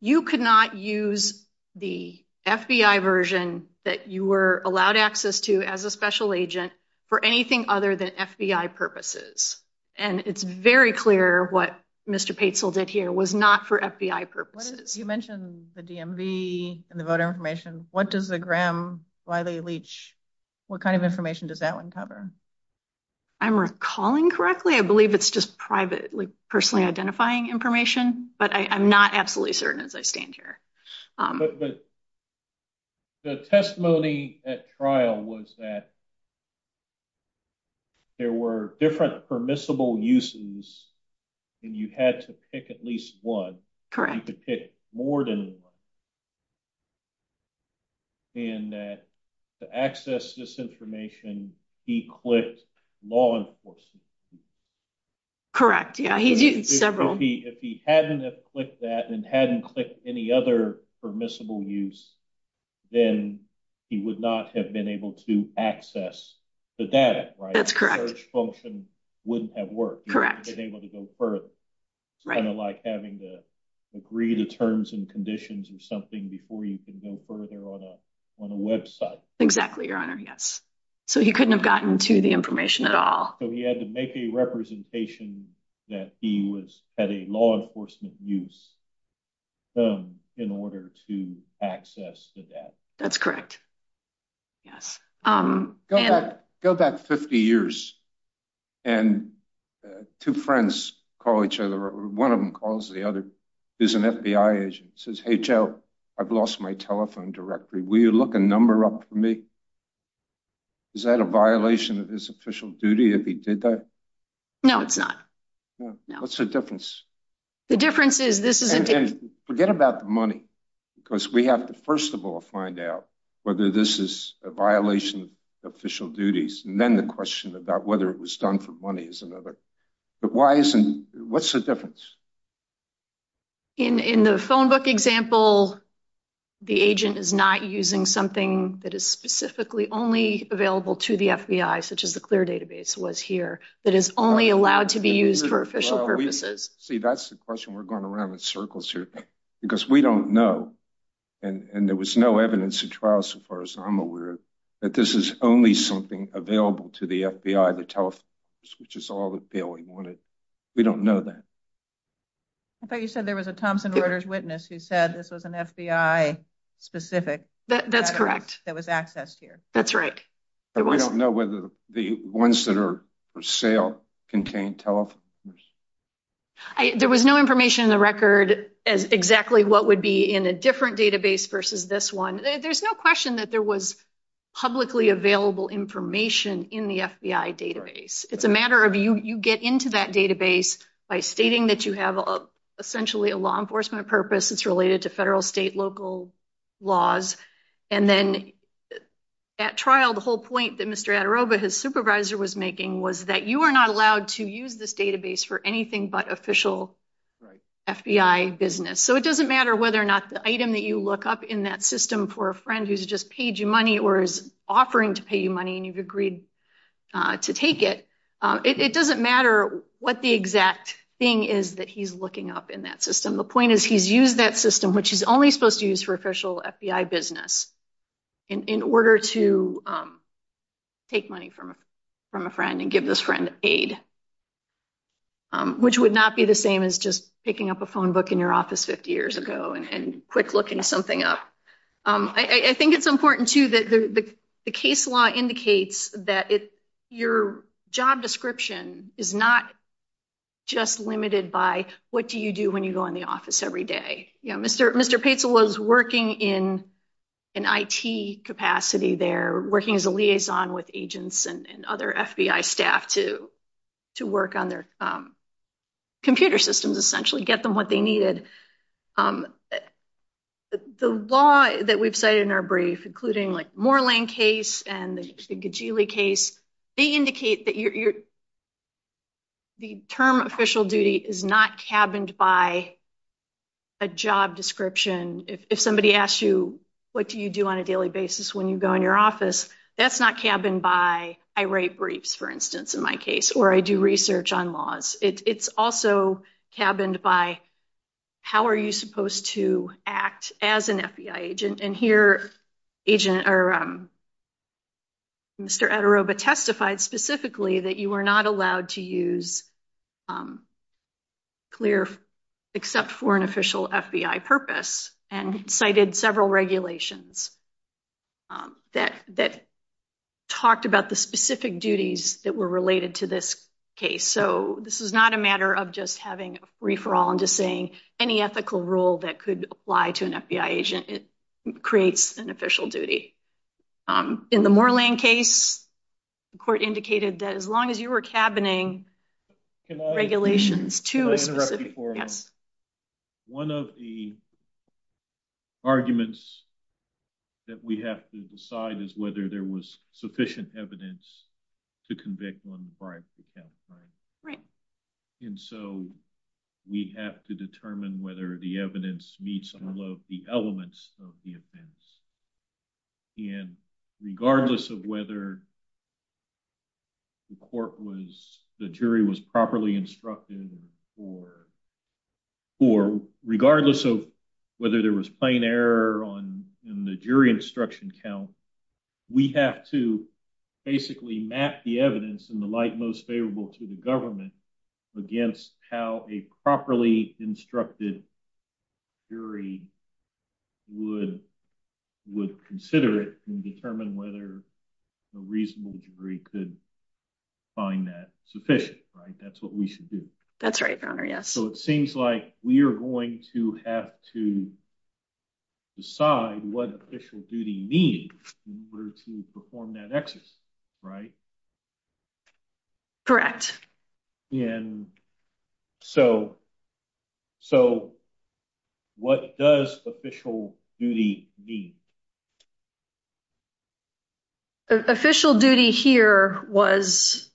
you could not use the FBI version that you were allowed access to as a special agent for anything other than FBI purposes. And it's very clear what Mr. Patesel did here was not for FBI purposes. You mentioned the DMV and the voter information. What does the Gramm-Riley-Leach... What kind of information does that one cover? I'm recalling correctly. I believe it's just privately, personally identifying information. But I'm not absolutely certain as I stand here. But the testimony at trial was that there were different permissible uses and you had to pick at least one. You could pick more than one. And that to access this information, he clicked law enforcement. Correct. Yeah, he did. Several. If he hadn't clicked that and hadn't clicked any other permissible use, then he would not have been able to access the data, right? That's correct. The search function wouldn't have worked. Correct. He wouldn't have been able to go further. Right. Kind of like having to agree the terms and conditions or something before you can go further on a website. Exactly, Your Honor. Yes. So he couldn't have gotten to the information at all. So he had to make a representation that he was at a law enforcement use in order to access the data. That's correct. Go back 50 years and two friends call each other. One of them calls the other is an FBI agent. Says, hey, Joe, I've lost my telephone directory. Will you look a number up for me? Is that a violation of his official duty? If he did that? No, it's not. What's the difference? The difference is, this is. Forget about the money, because we have to, first of all, find out whether this is a violation of official duties. Then the question about whether it was done for money is another. But why isn't? What's the difference? In the phone book example, the agent is not using something that is specifically only to the FBI, such as the clear database was here. That is only allowed to be used for official purposes. See, that's the question we're going around in circles here, because we don't know. And there was no evidence to trial. So far as I'm aware that this is only something available to the FBI. The telephone, which is all that they wanted. We don't know that. I thought you said there was a Thompson orders witness who said this was an FBI specific. That's correct. That was accessed here. That's right. But we don't know whether the ones that are for sale contain telephone. There was no information in the record as exactly what would be in a different database versus this one. There's no question that there was publicly available information in the FBI database. It's a matter of you get into that database by stating that you have essentially a law enforcement purpose. It's related to federal, state, local laws. And then at trial, the whole point that Mr. Adarova, his supervisor, was making was that you are not allowed to use this database for anything but official FBI business. So it doesn't matter whether or not the item that you look up in that system for a friend who's just paid you money or is offering to pay you money and you've agreed to take it. It doesn't matter what the exact thing is that he's looking up in that system. The point is he's used that system, which he's only supposed to use for official FBI business, in order to take money from a friend and give this friend aid, which would not be the same as just picking up a phone book in your office 50 years ago and quick looking something up. I think it's important, too, that the case law indicates that your job description is not just limited by what do you do when you go in the office every day. Mr. Pizzo was working in an IT capacity there, working as a liaison with agents and other FBI staff to work on their computer systems, essentially, get them what they needed. The law that we've cited in our brief, including the Moorland case and the Ghigli case, they indicate that the term official duty is not cabined by a job description. If somebody asks you what do you do on a daily basis when you go in your office, that's not cabined by I write briefs, for instance, in my case, or I do research on laws. It's also cabined by how are you supposed to act as an FBI agent. Here, Mr. Ederoba testified specifically that you were not allowed to use clear except for an official FBI purpose and cited several regulations that talked about the specific duties that were related to this case. So, this is not a matter of just having a referral and just saying any ethical rule that could apply to an FBI agent. It creates an official duty. In the Moorland case, the court indicated that as long as you were cabining regulations to One of the arguments that we have to decide is whether there was sufficient evidence to convict one bribe to cap crime. And so, we have to determine whether the evidence meets all of the elements of the offense. And regardless of whether the court was, the jury was properly instructed, or regardless of whether there was plain error in the jury instruction count, we have to basically map the evidence in the light most favorable to the government against how a properly instructed jury would consider it and determine whether a reasonable jury could find that sufficient, right? That's what we should do. That's right. So, it seems like we are going to have to decide what official duty means in order to perform that exercise, right? Correct. So, what does official duty mean? Official duty here was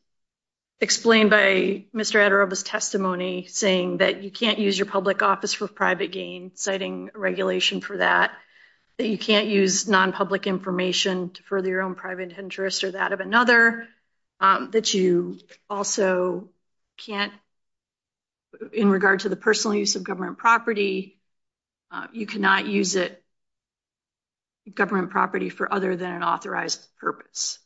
explained by Mr. Adoroba's testimony saying that you can't use your public office for private gain, citing regulation for that. You can't use non-public information to further your own private interest or that of another. That you also can't, in regard to the government property, for other than an authorized purpose.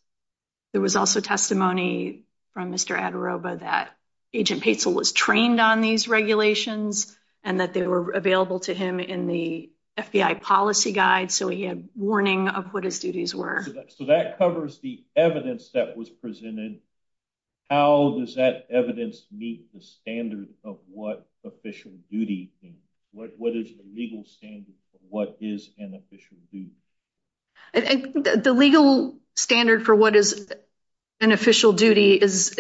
There was also testimony from Mr. Adoroba that Agent Patel was trained on these regulations and that they were available to him in the FBI policy guide. So, he had warning of what his duties were. So, that covers the evidence that was presented. How does that evidence meet the standard of what official duty means? What is the legal standard for what is an official duty? The legal standard for what is an official duty is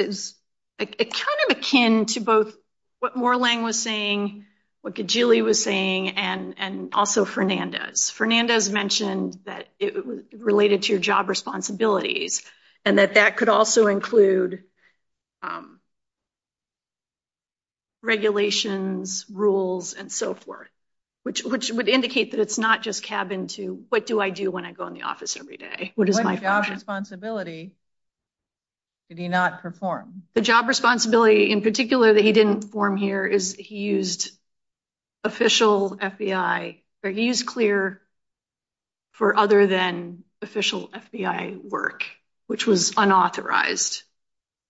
kind of akin to both what Moorlang was saying, what Kijili was saying, and also Fernandez. Fernandez mentioned that it was related to your job responsibilities and that that could also include regulations, rules, and so forth. Which would indicate that it's not just cabin to, what do I do when I go in the office every day? What is my job responsibility? Did he not perform? The job responsibility, in particular, that he didn't perform here is he used official FBI. He used CLEAR for other than official FBI work, which was unauthorized.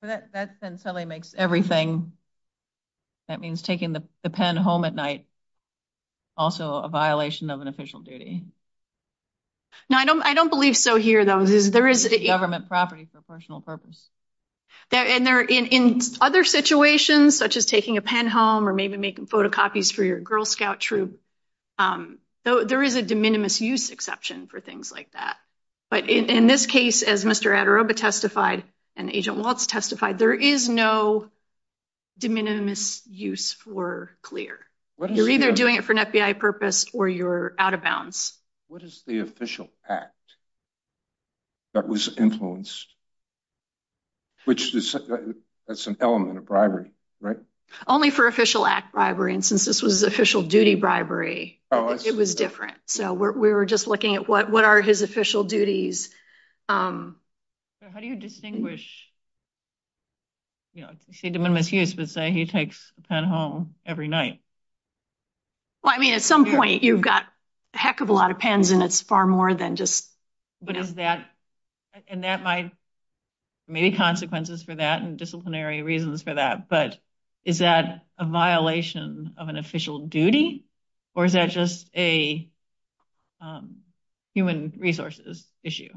That sensibly makes everything. That means taking the pen home at night also a violation of an official duty. No, I don't believe so here, though. There is a government property for personal purpose. In other situations, such as taking a pen home or maybe making photocopies for your Girl Scout troop, there is a de minimis use exception for things like that. But in this case, as Mr. Adoroba testified and Agent Walts testified, there is no de minimis use for CLEAR. You're either doing it for an FBI purpose or you're out of bounds. What is the official act that was influenced? That's an element of bribery, right? Only for official act bribery, and since this was official duty bribery, it was different. So we were just looking at what are his official duties. How do you distinguish de minimis use, but say he takes a pen home every night? Well, I mean, at some point, you've got a heck of a lot of pens and it's far more than just that. And that might maybe consequences for that and disciplinary reasons for that. But is that a violation of official duty or is that just a human resources issue?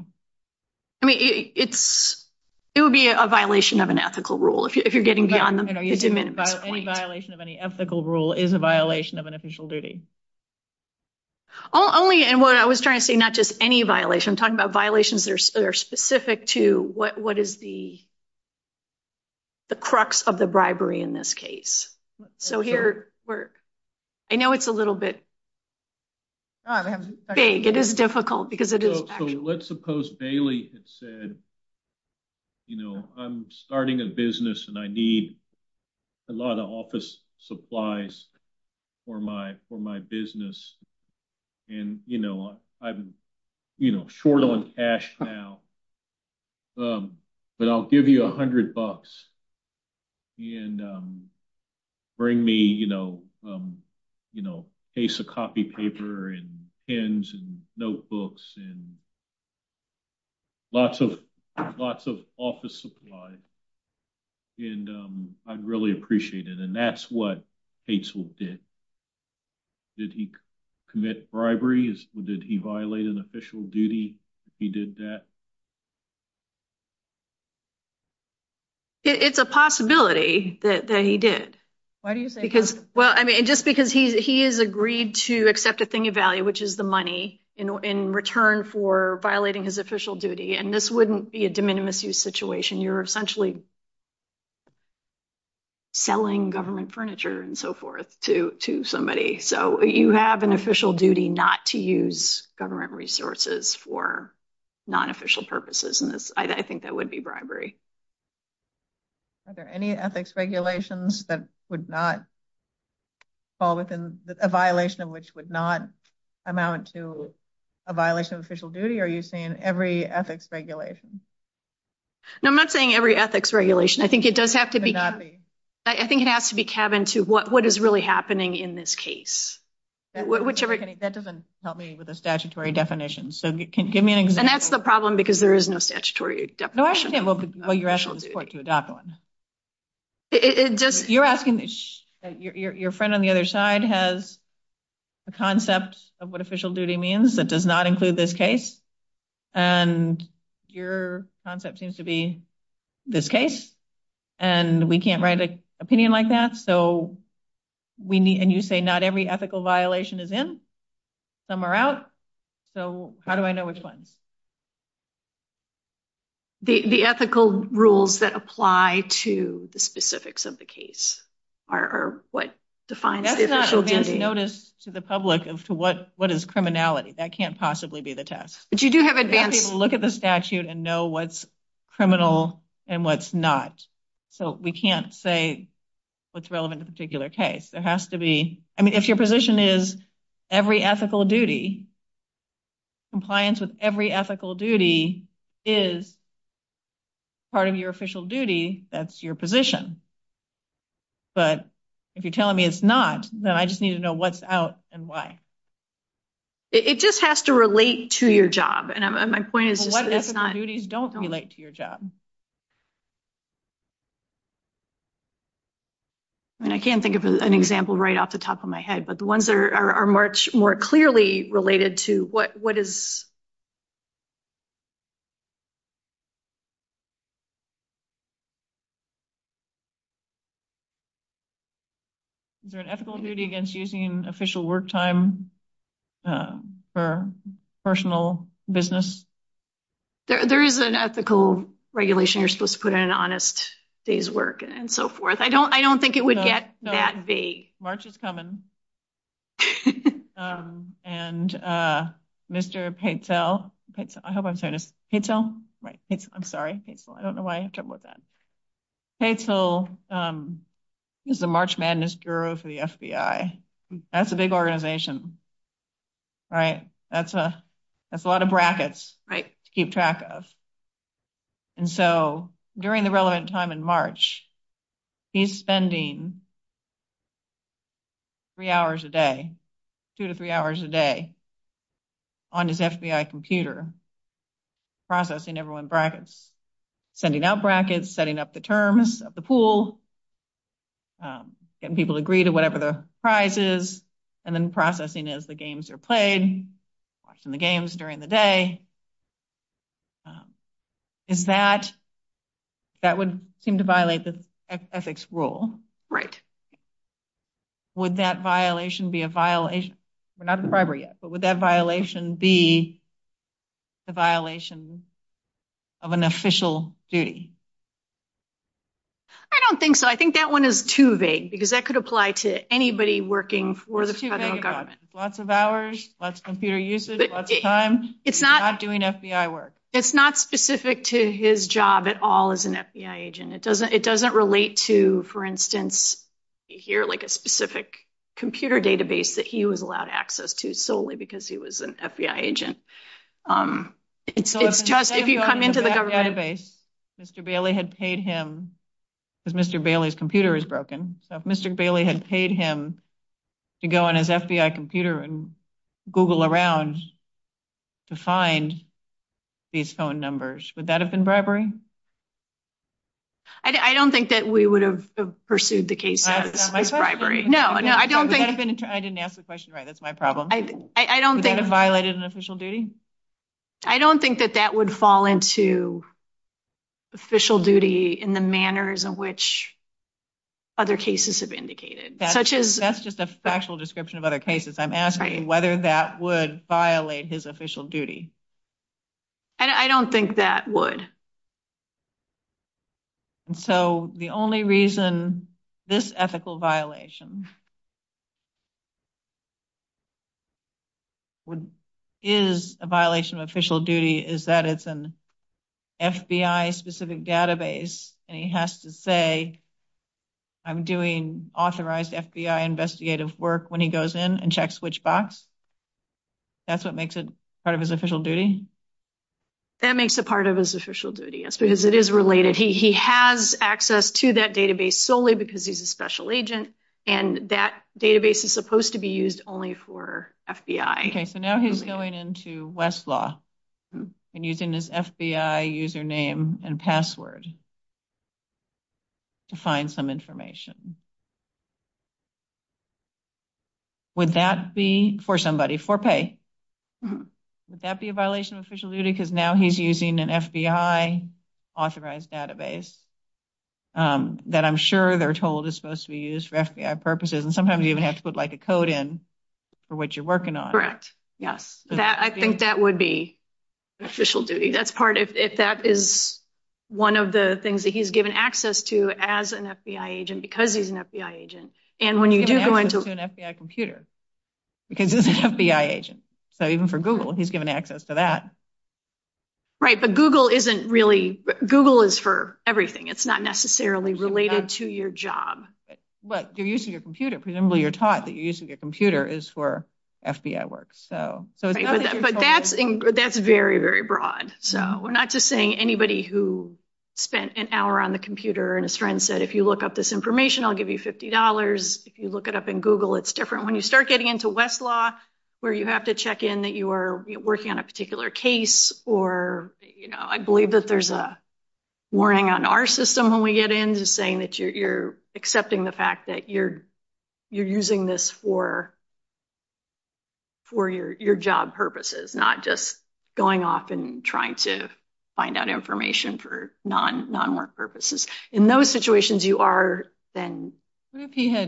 I mean, it's, it would be a violation of an ethical rule if you're getting beyond the point. Any violation of any ethical rule is a violation of an official duty. Only, and what I was trying to say, not just any violation, talking about violations that are specific to what is the crux of the bribery in this case. So here we're, I know it's a little bit big. It is difficult because it is. So let's suppose Bailey had said, you know, I'm starting a business and I need a lot of office supplies for my, for my business. And, you know, I've been, you know, short on cash now, but I'll give you a hundred bucks and bring me, you know, you know, a case of copy paper and pens and notebooks and lots of, lots of office supply. And I'd really appreciate it. And that's what Hazel did. Did he commit bribery? Did he violate an official duty if he did that? It's a possibility that he did. Why do you think? Because, well, I mean, just because he, he has agreed to accept the thing of value, which is the money in return for violating his official duty. And this wouldn't be a de minimis use situation. You're essentially selling government furniture and so forth to, to somebody. So you have an official duty not to use government resources for non-official purposes. And I think that would be bribery. Are there any ethics regulations that would not fall within a violation of which would not amount to a violation of official duty? Are you saying every ethics regulation? No, I'm not saying every ethics regulation. I think it does have to be, I think it has to be cabined to what, what is really happening in this case. Whichever. That doesn't help me with a statutory definition. So give me an example. And that's the problem because there is no statutory definition. No, I should say, well, you're asking the court to adopt one. It just, you're asking, your friend on the other side has a concept of what official duty means that does not include this case. And your concept seems to be this case. And we can't write an opinion like that. So we need, and you say not every ethical violation is in, some are out. So how do I know which one? The ethical rules that apply to the specifics of the case are what define official duty. That is not a notice to the public as to what, is criminality. That can't possibly be the test. But you do have advantage to look at the statute and know what's criminal and what's not. So we can't say what's relevant in a particular case. There has to be, I mean, if your position is every ethical duty, compliance with every ethical duty is part of your official duty, that's your position. But if you're telling me it's not, then I just need to know what's out and why. It just has to relate to your job. And my point is, what ethical duties don't relate to your job? And I can't think of an example right off the top of my head, but the ones that are much more clearly related to what is... Is there an ethical duty against using official work time for personal business? There is an ethical regulation. You're supposed to put in an honest day's work and so forth. I don't think it would get that vague. March is coming. And Mr. Patel, I hope I'm saying his name right. I'm sorry. I don't know why I had trouble with that. Patel is the March Madness Bureau for the FBI. That's a big organization. All right. That's a lot of brackets to keep track of. And so during the relevant time in March, he's spending three hours a day, two to three hours a day on his FBI computer processing everyone's brackets, sending out brackets, setting up the terms of the pool, getting people to agree to whatever the prize is, and then processing as the games are played, watching the games during the day. Is that, that would seem to violate the ethics rule. Right. Would that violation be a violation, we're not at the bribery yet, but would that violation be the violation of an official duty? I don't think so. I think that one is too vague because that could apply to anybody working for the federal government. Lots of hours, lots of computer usage, lots of time. It's not doing FBI work. It's not specific to his job at all as an FBI agent. It doesn't relate to, for instance, here like a specific computer database that he was allowed access to solely because he was an FBI agent. It's just, if you come into the database, Mr. Bailey had paid him because Mr. Bailey's computer is broken. So if Mr. Bailey had paid him to go on his FBI computer and Google around to find these phone numbers, would that have been bribery? I don't think that we would have pursued the case as bribery. No, I don't think. I didn't ask the question right. That's my problem. I don't think. Would that have violated an official duty? I don't think that that would fall into official duty in the manners of which other cases have indicated. That's just a factual description of other cases. I'm asking whether that would violate his official duty. I don't think that would. So the only reason this ethical violation is a violation of official duty is that it's an FBI specific database and he has to say, I'm doing authorized FBI investigative work when he goes in and checks which box. That's what makes it part of his official duty? That makes it part of his official duty. Yes, because it is related. He has access to that database solely because he's a special agent and that database is supposed to be used only for FBI. Okay, so now he's going into Westlaw and using his FBI username and password to find some information. Would that be for somebody, for pay? Would that be a violation of official duty because now he's an FBI authorized database that I'm sure they're told is supposed to be used for FBI purposes and sometimes you even have to put like a code in for what you're working on. Correct, yes. I think that would be official duty. That's part, if that is one of the things that he's given access to as an FBI agent because he's an FBI agent and when you do go into an FBI computer because he's an He's given access to that. Right, but Google isn't really, Google is for everything. It's not necessarily related to your job. But you're using your computer, presumably you're taught that you're using your computer is for FBI work. But that's very, very broad. So we're not just saying anybody who spent an hour on the computer and a friend said, if you look up this information, I'll give you $50. If you look it up in Google, it's different. When you start getting into where you have to check in that you are working on a particular case or, you know, I believe that there's a warning on our system when we get into saying that you're accepting the fact that you're using this for your job purposes, not just going off and trying to find out information for non-work purposes. In those situations, you are then in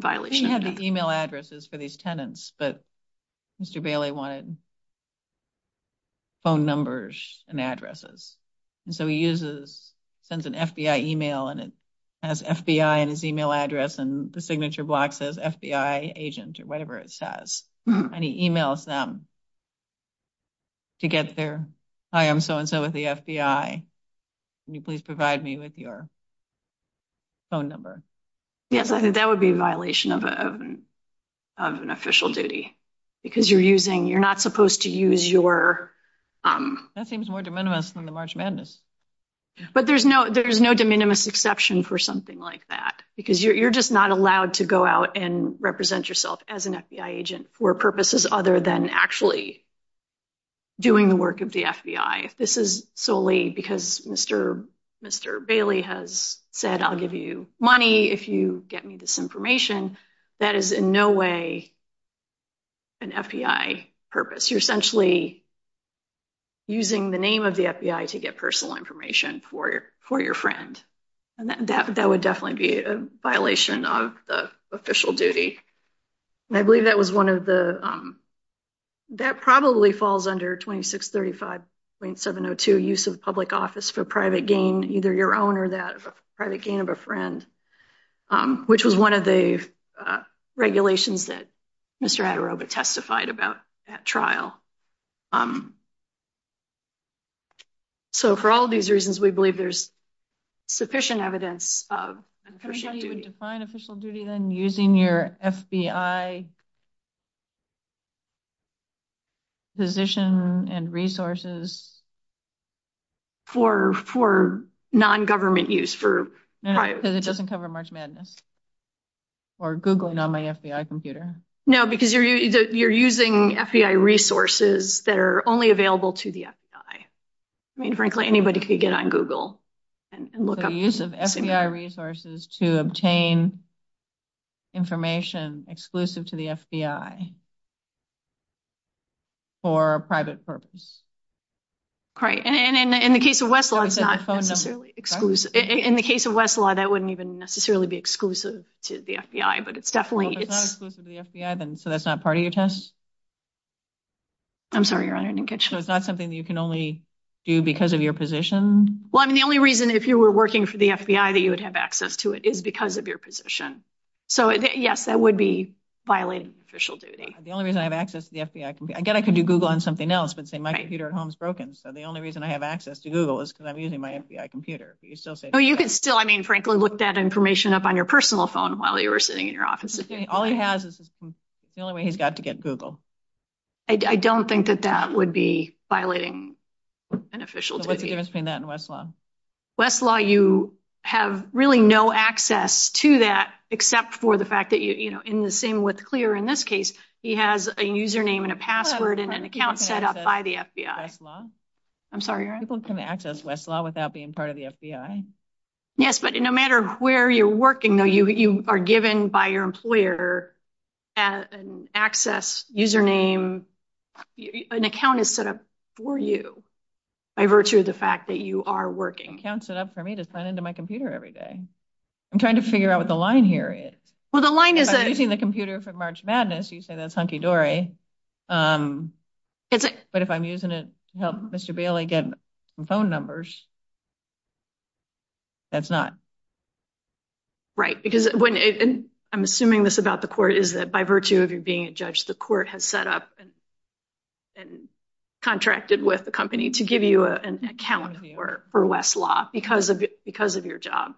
violation. What if he had the email addresses for these tenants, but Mr. Bailey wanted phone numbers and addresses. And so he sends an FBI email and it has FBI and his email address and the signature block says FBI agent or whatever it says. And he emails them to get their, hi, I'm so-and-so with the FBI. Can you please provide me with your phone number? Yes, I think that would be a violation of an official duty because you're using, you're not supposed to use your... That seems more de minimis from the March Madness. But there's no de minimis exception for something like that because you're just not allowed to go out and represent yourself as an FBI agent for purposes other than actually doing the work of the FBI. This is solely because Mr. Bailey has said, I'll give you money if you get me this information. That is in no way an FBI purpose. You're essentially using the name of the FBI to get personal information for your friend. That would definitely be a violation of the official duty. I believe that was one of the... That probably falls under 2635.702, use of public office for private gain, either your own or that of a private gain of a friend, which was one of the regulations that Mr. Adorobic testified about at trial. So for all these reasons, we believe there's sufficient evidence of official duty. Can you define official duty then using your FBI position and resources? For non-government use for... No, because it doesn't cover March Madness or Googling on my FBI computer. No, because you're using FBI resources that are only available to the FBI. I mean, frankly, anybody could get on Google and look up... The use of FBI resources to obtain information exclusive to the FBI for a private purpose. Great. And in the case of Westlaw, it's not necessarily exclusive. In the case of Westlaw, that wouldn't even necessarily be exclusive to the FBI, but it's definitely... If it's not exclusive to the FBI, then so that's not part of your test? I'm sorry, Your Honor. I didn't catch that. So it's not something that you can only do because of your position? Well, I mean, the only reason if you were working for the FBI that you would have access to it is because of your position. So yes, that would be violating official duty. The only reason I have access to the FBI... I get I can do Google on something else, but say my computer at home is broken. So the only reason I have access to Google is because I'm using my FBI computer. But you still say... Well, you can still, I mean, frankly, look that information up on your personal phone while you were sitting in your office. All he has is the only way he's got to get Google. I don't think that that would be violating an official duty. What's the difference between that and Westlaw? Westlaw, you have really no access to that except for the fact that in the same with Clear, in this case, he has a username and a password and an account set up by the FBI. I'm sorry, Your Honor. People can access Westlaw without being part of the FBI? Yes, but no matter where you're working, though, you are given by your employer an access, username, an account is set up for you by virtue of the fact that you are working. An account is set up for me to sign into my computer every day. I'm trying to figure out what the line here is. Well, the line is that... If I'm using the computer for March Madness, you say that's hunky-dory. But if I'm using it to help Mr. Bailey get phone numbers, that's not. Right, because I'm assuming this about the court is that by virtue of you being a judge, the court has set up and contracted with the company to give you an account for Westlaw because of your job,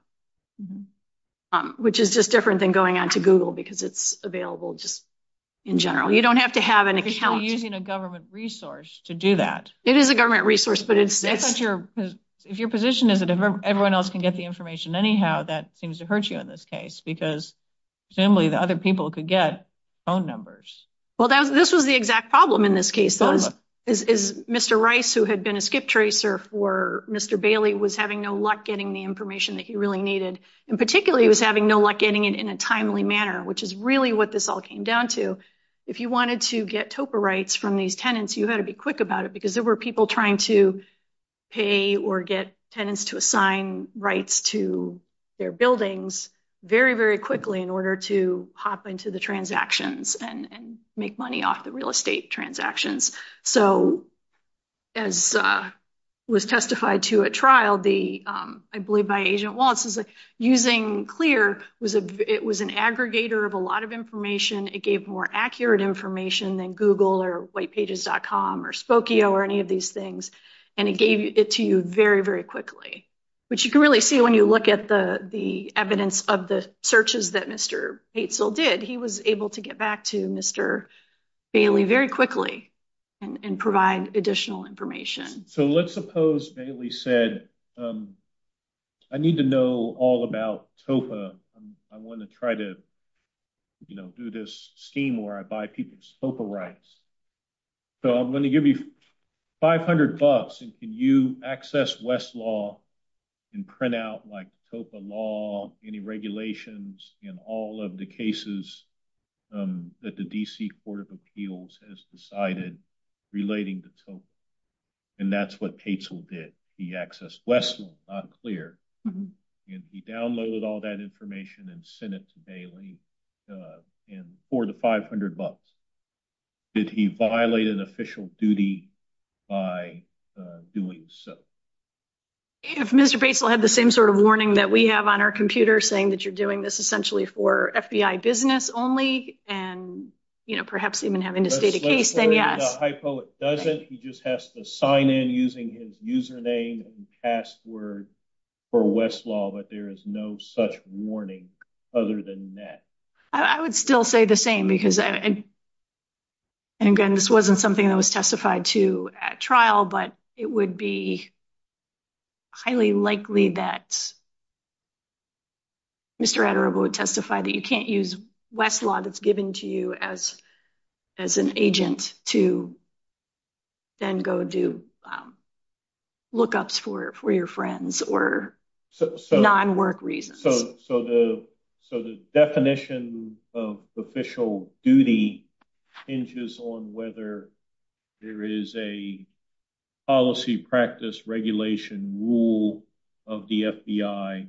which is just different than going on to Google because it's available just in general. You don't have to have an account. Because you're using a government resource to do that. It is a government resource, but it's... If your position is that everyone else can get the information anyhow, that seems to hurt you in this case because, generally, the other people could get phone numbers. Well, this was the exact problem in this case. Mr. Rice, who had been a skip tracer for Mr. Bailey, was having no luck getting the information that he really needed, and particularly was having no luck getting it in a timely manner, which is really what this all came down to. If you wanted to get TOPA rights from these tenants, you had to be quick about it because there were people trying to pay or get tenants to assign rights to their buildings very, very quickly in order to hop into the transactions and make money off the real estate transactions. So, as was testified to at trial, I believe by Agent Wallace, using Clear, it was an aggregator of a lot of information. It gave more accurate information than Google or whitepages.com or Spokio or any of these things. And it gave it to you very, very quickly, which you can really see when you look at the evidence of the searches that Mr. Batesill did. He was able to get back to Mr. Bailey very quickly and provide additional information. So, let's suppose Bailey said, I need to know all about TOPA. I want to try to do this scheme where I buy people's TOPA rights. So, I'm going to give you $500 and can you access Westlaw and print out like TOPA law, any regulations in all of the cases that the D.C. Court of Appeals has decided relating to TOPA? And that's what Batesill did. He accessed Westlaw, not Clear. And he downloaded all that information and sent it to Bailey for the $500. Did he violate an official duty by doing so? If Mr. Batesill had the same sort of warning that we have on our computer saying that you're doing this essentially for FBI business only, and perhaps even having to state a case, then yeah. So, if the hypo doesn't, he just has to sign in using his username and password for Westlaw, but there is no such warning other than that. I would still say the same because, and again, this wasn't something that was testified to at trial, but it would be highly likely that Mr. Adarobo would testify that you can't use Westlaw that's given to you as an agent to then go do lookups for your friends or non-work reasons. So, the definition of official duty hinges on whether there is a policy practice regulation rule of the FBI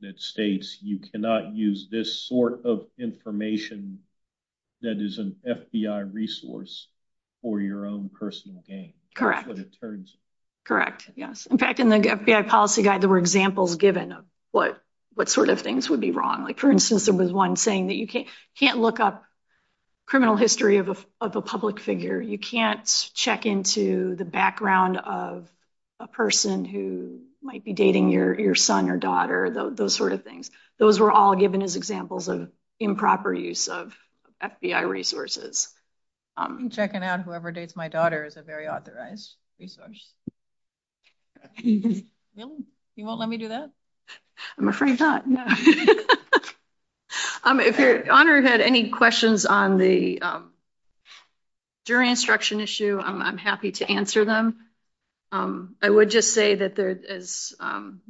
that states you cannot use this sort of information that is an FBI resource for your own personal gain. Correct. Correct, yes. In fact, in the FBI policy guide, there were examples given what sort of things would be wrong. Like, for instance, there was one saying that you can't look up criminal history of a public figure. You can't check into the background of a person who might be dating your son or daughter, those sort of things. Those were all given as examples of improper use of FBI resources. Checking on whoever dates my daughter is a very authorized resource. Really? You won't let me do that? I'm afraid not, no. If your honor had any questions on the jury instruction issue, I'm happy to answer them. I would just say that, as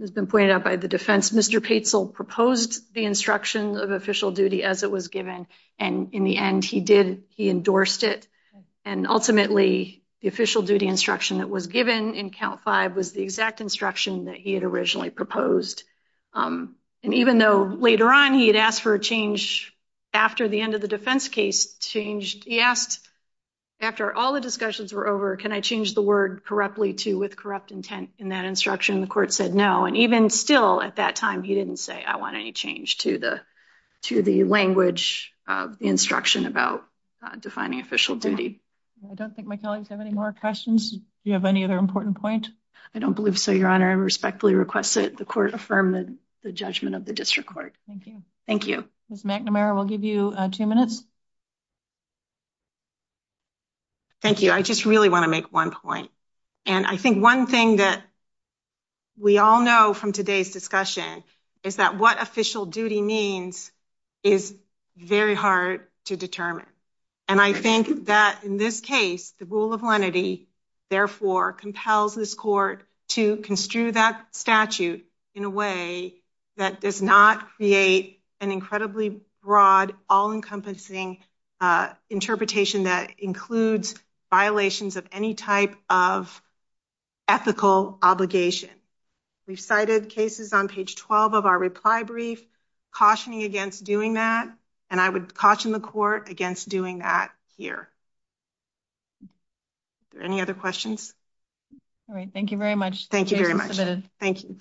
has been pointed out by the defense, Mr. Petzl proposed the instruction of official duty as it was given, and in the end, he did, he endorsed it. And ultimately, the official duty instruction that was given in count five was the exact instruction that he had originally proposed. And even though later on, he had asked for a change after the end of the defense case changed, he asked, after all the discussions were over, can I change the word correctly to with corrupt intent? In that instruction, the court said no. And even still, at that time, he didn't say I want any change to the language instruction about defining official duty. I don't think my colleagues have any more questions. Do you have any other important point? I don't believe so, your honor. I respectfully request that the court affirm the judgment of the district court. Thank you. Thank you. Ms. McNamara, we'll give you two minutes. Thank you. I just really want to make one point. And I think one thing that we all know from today's discussion is that what official duty means is very hard to determine. And I think that in this case, the rule of lenity, therefore compels this court to construe that statute in a way that does not create an incredibly broad, all-encompassing interpretation that includes violations of any type of ethical obligation. We cited cases on page 12 of our reply brief, cautioning against doing that. And I would caution the court against doing that here. Any other questions? All right. Thank you very much. Thank you very much. Thank you.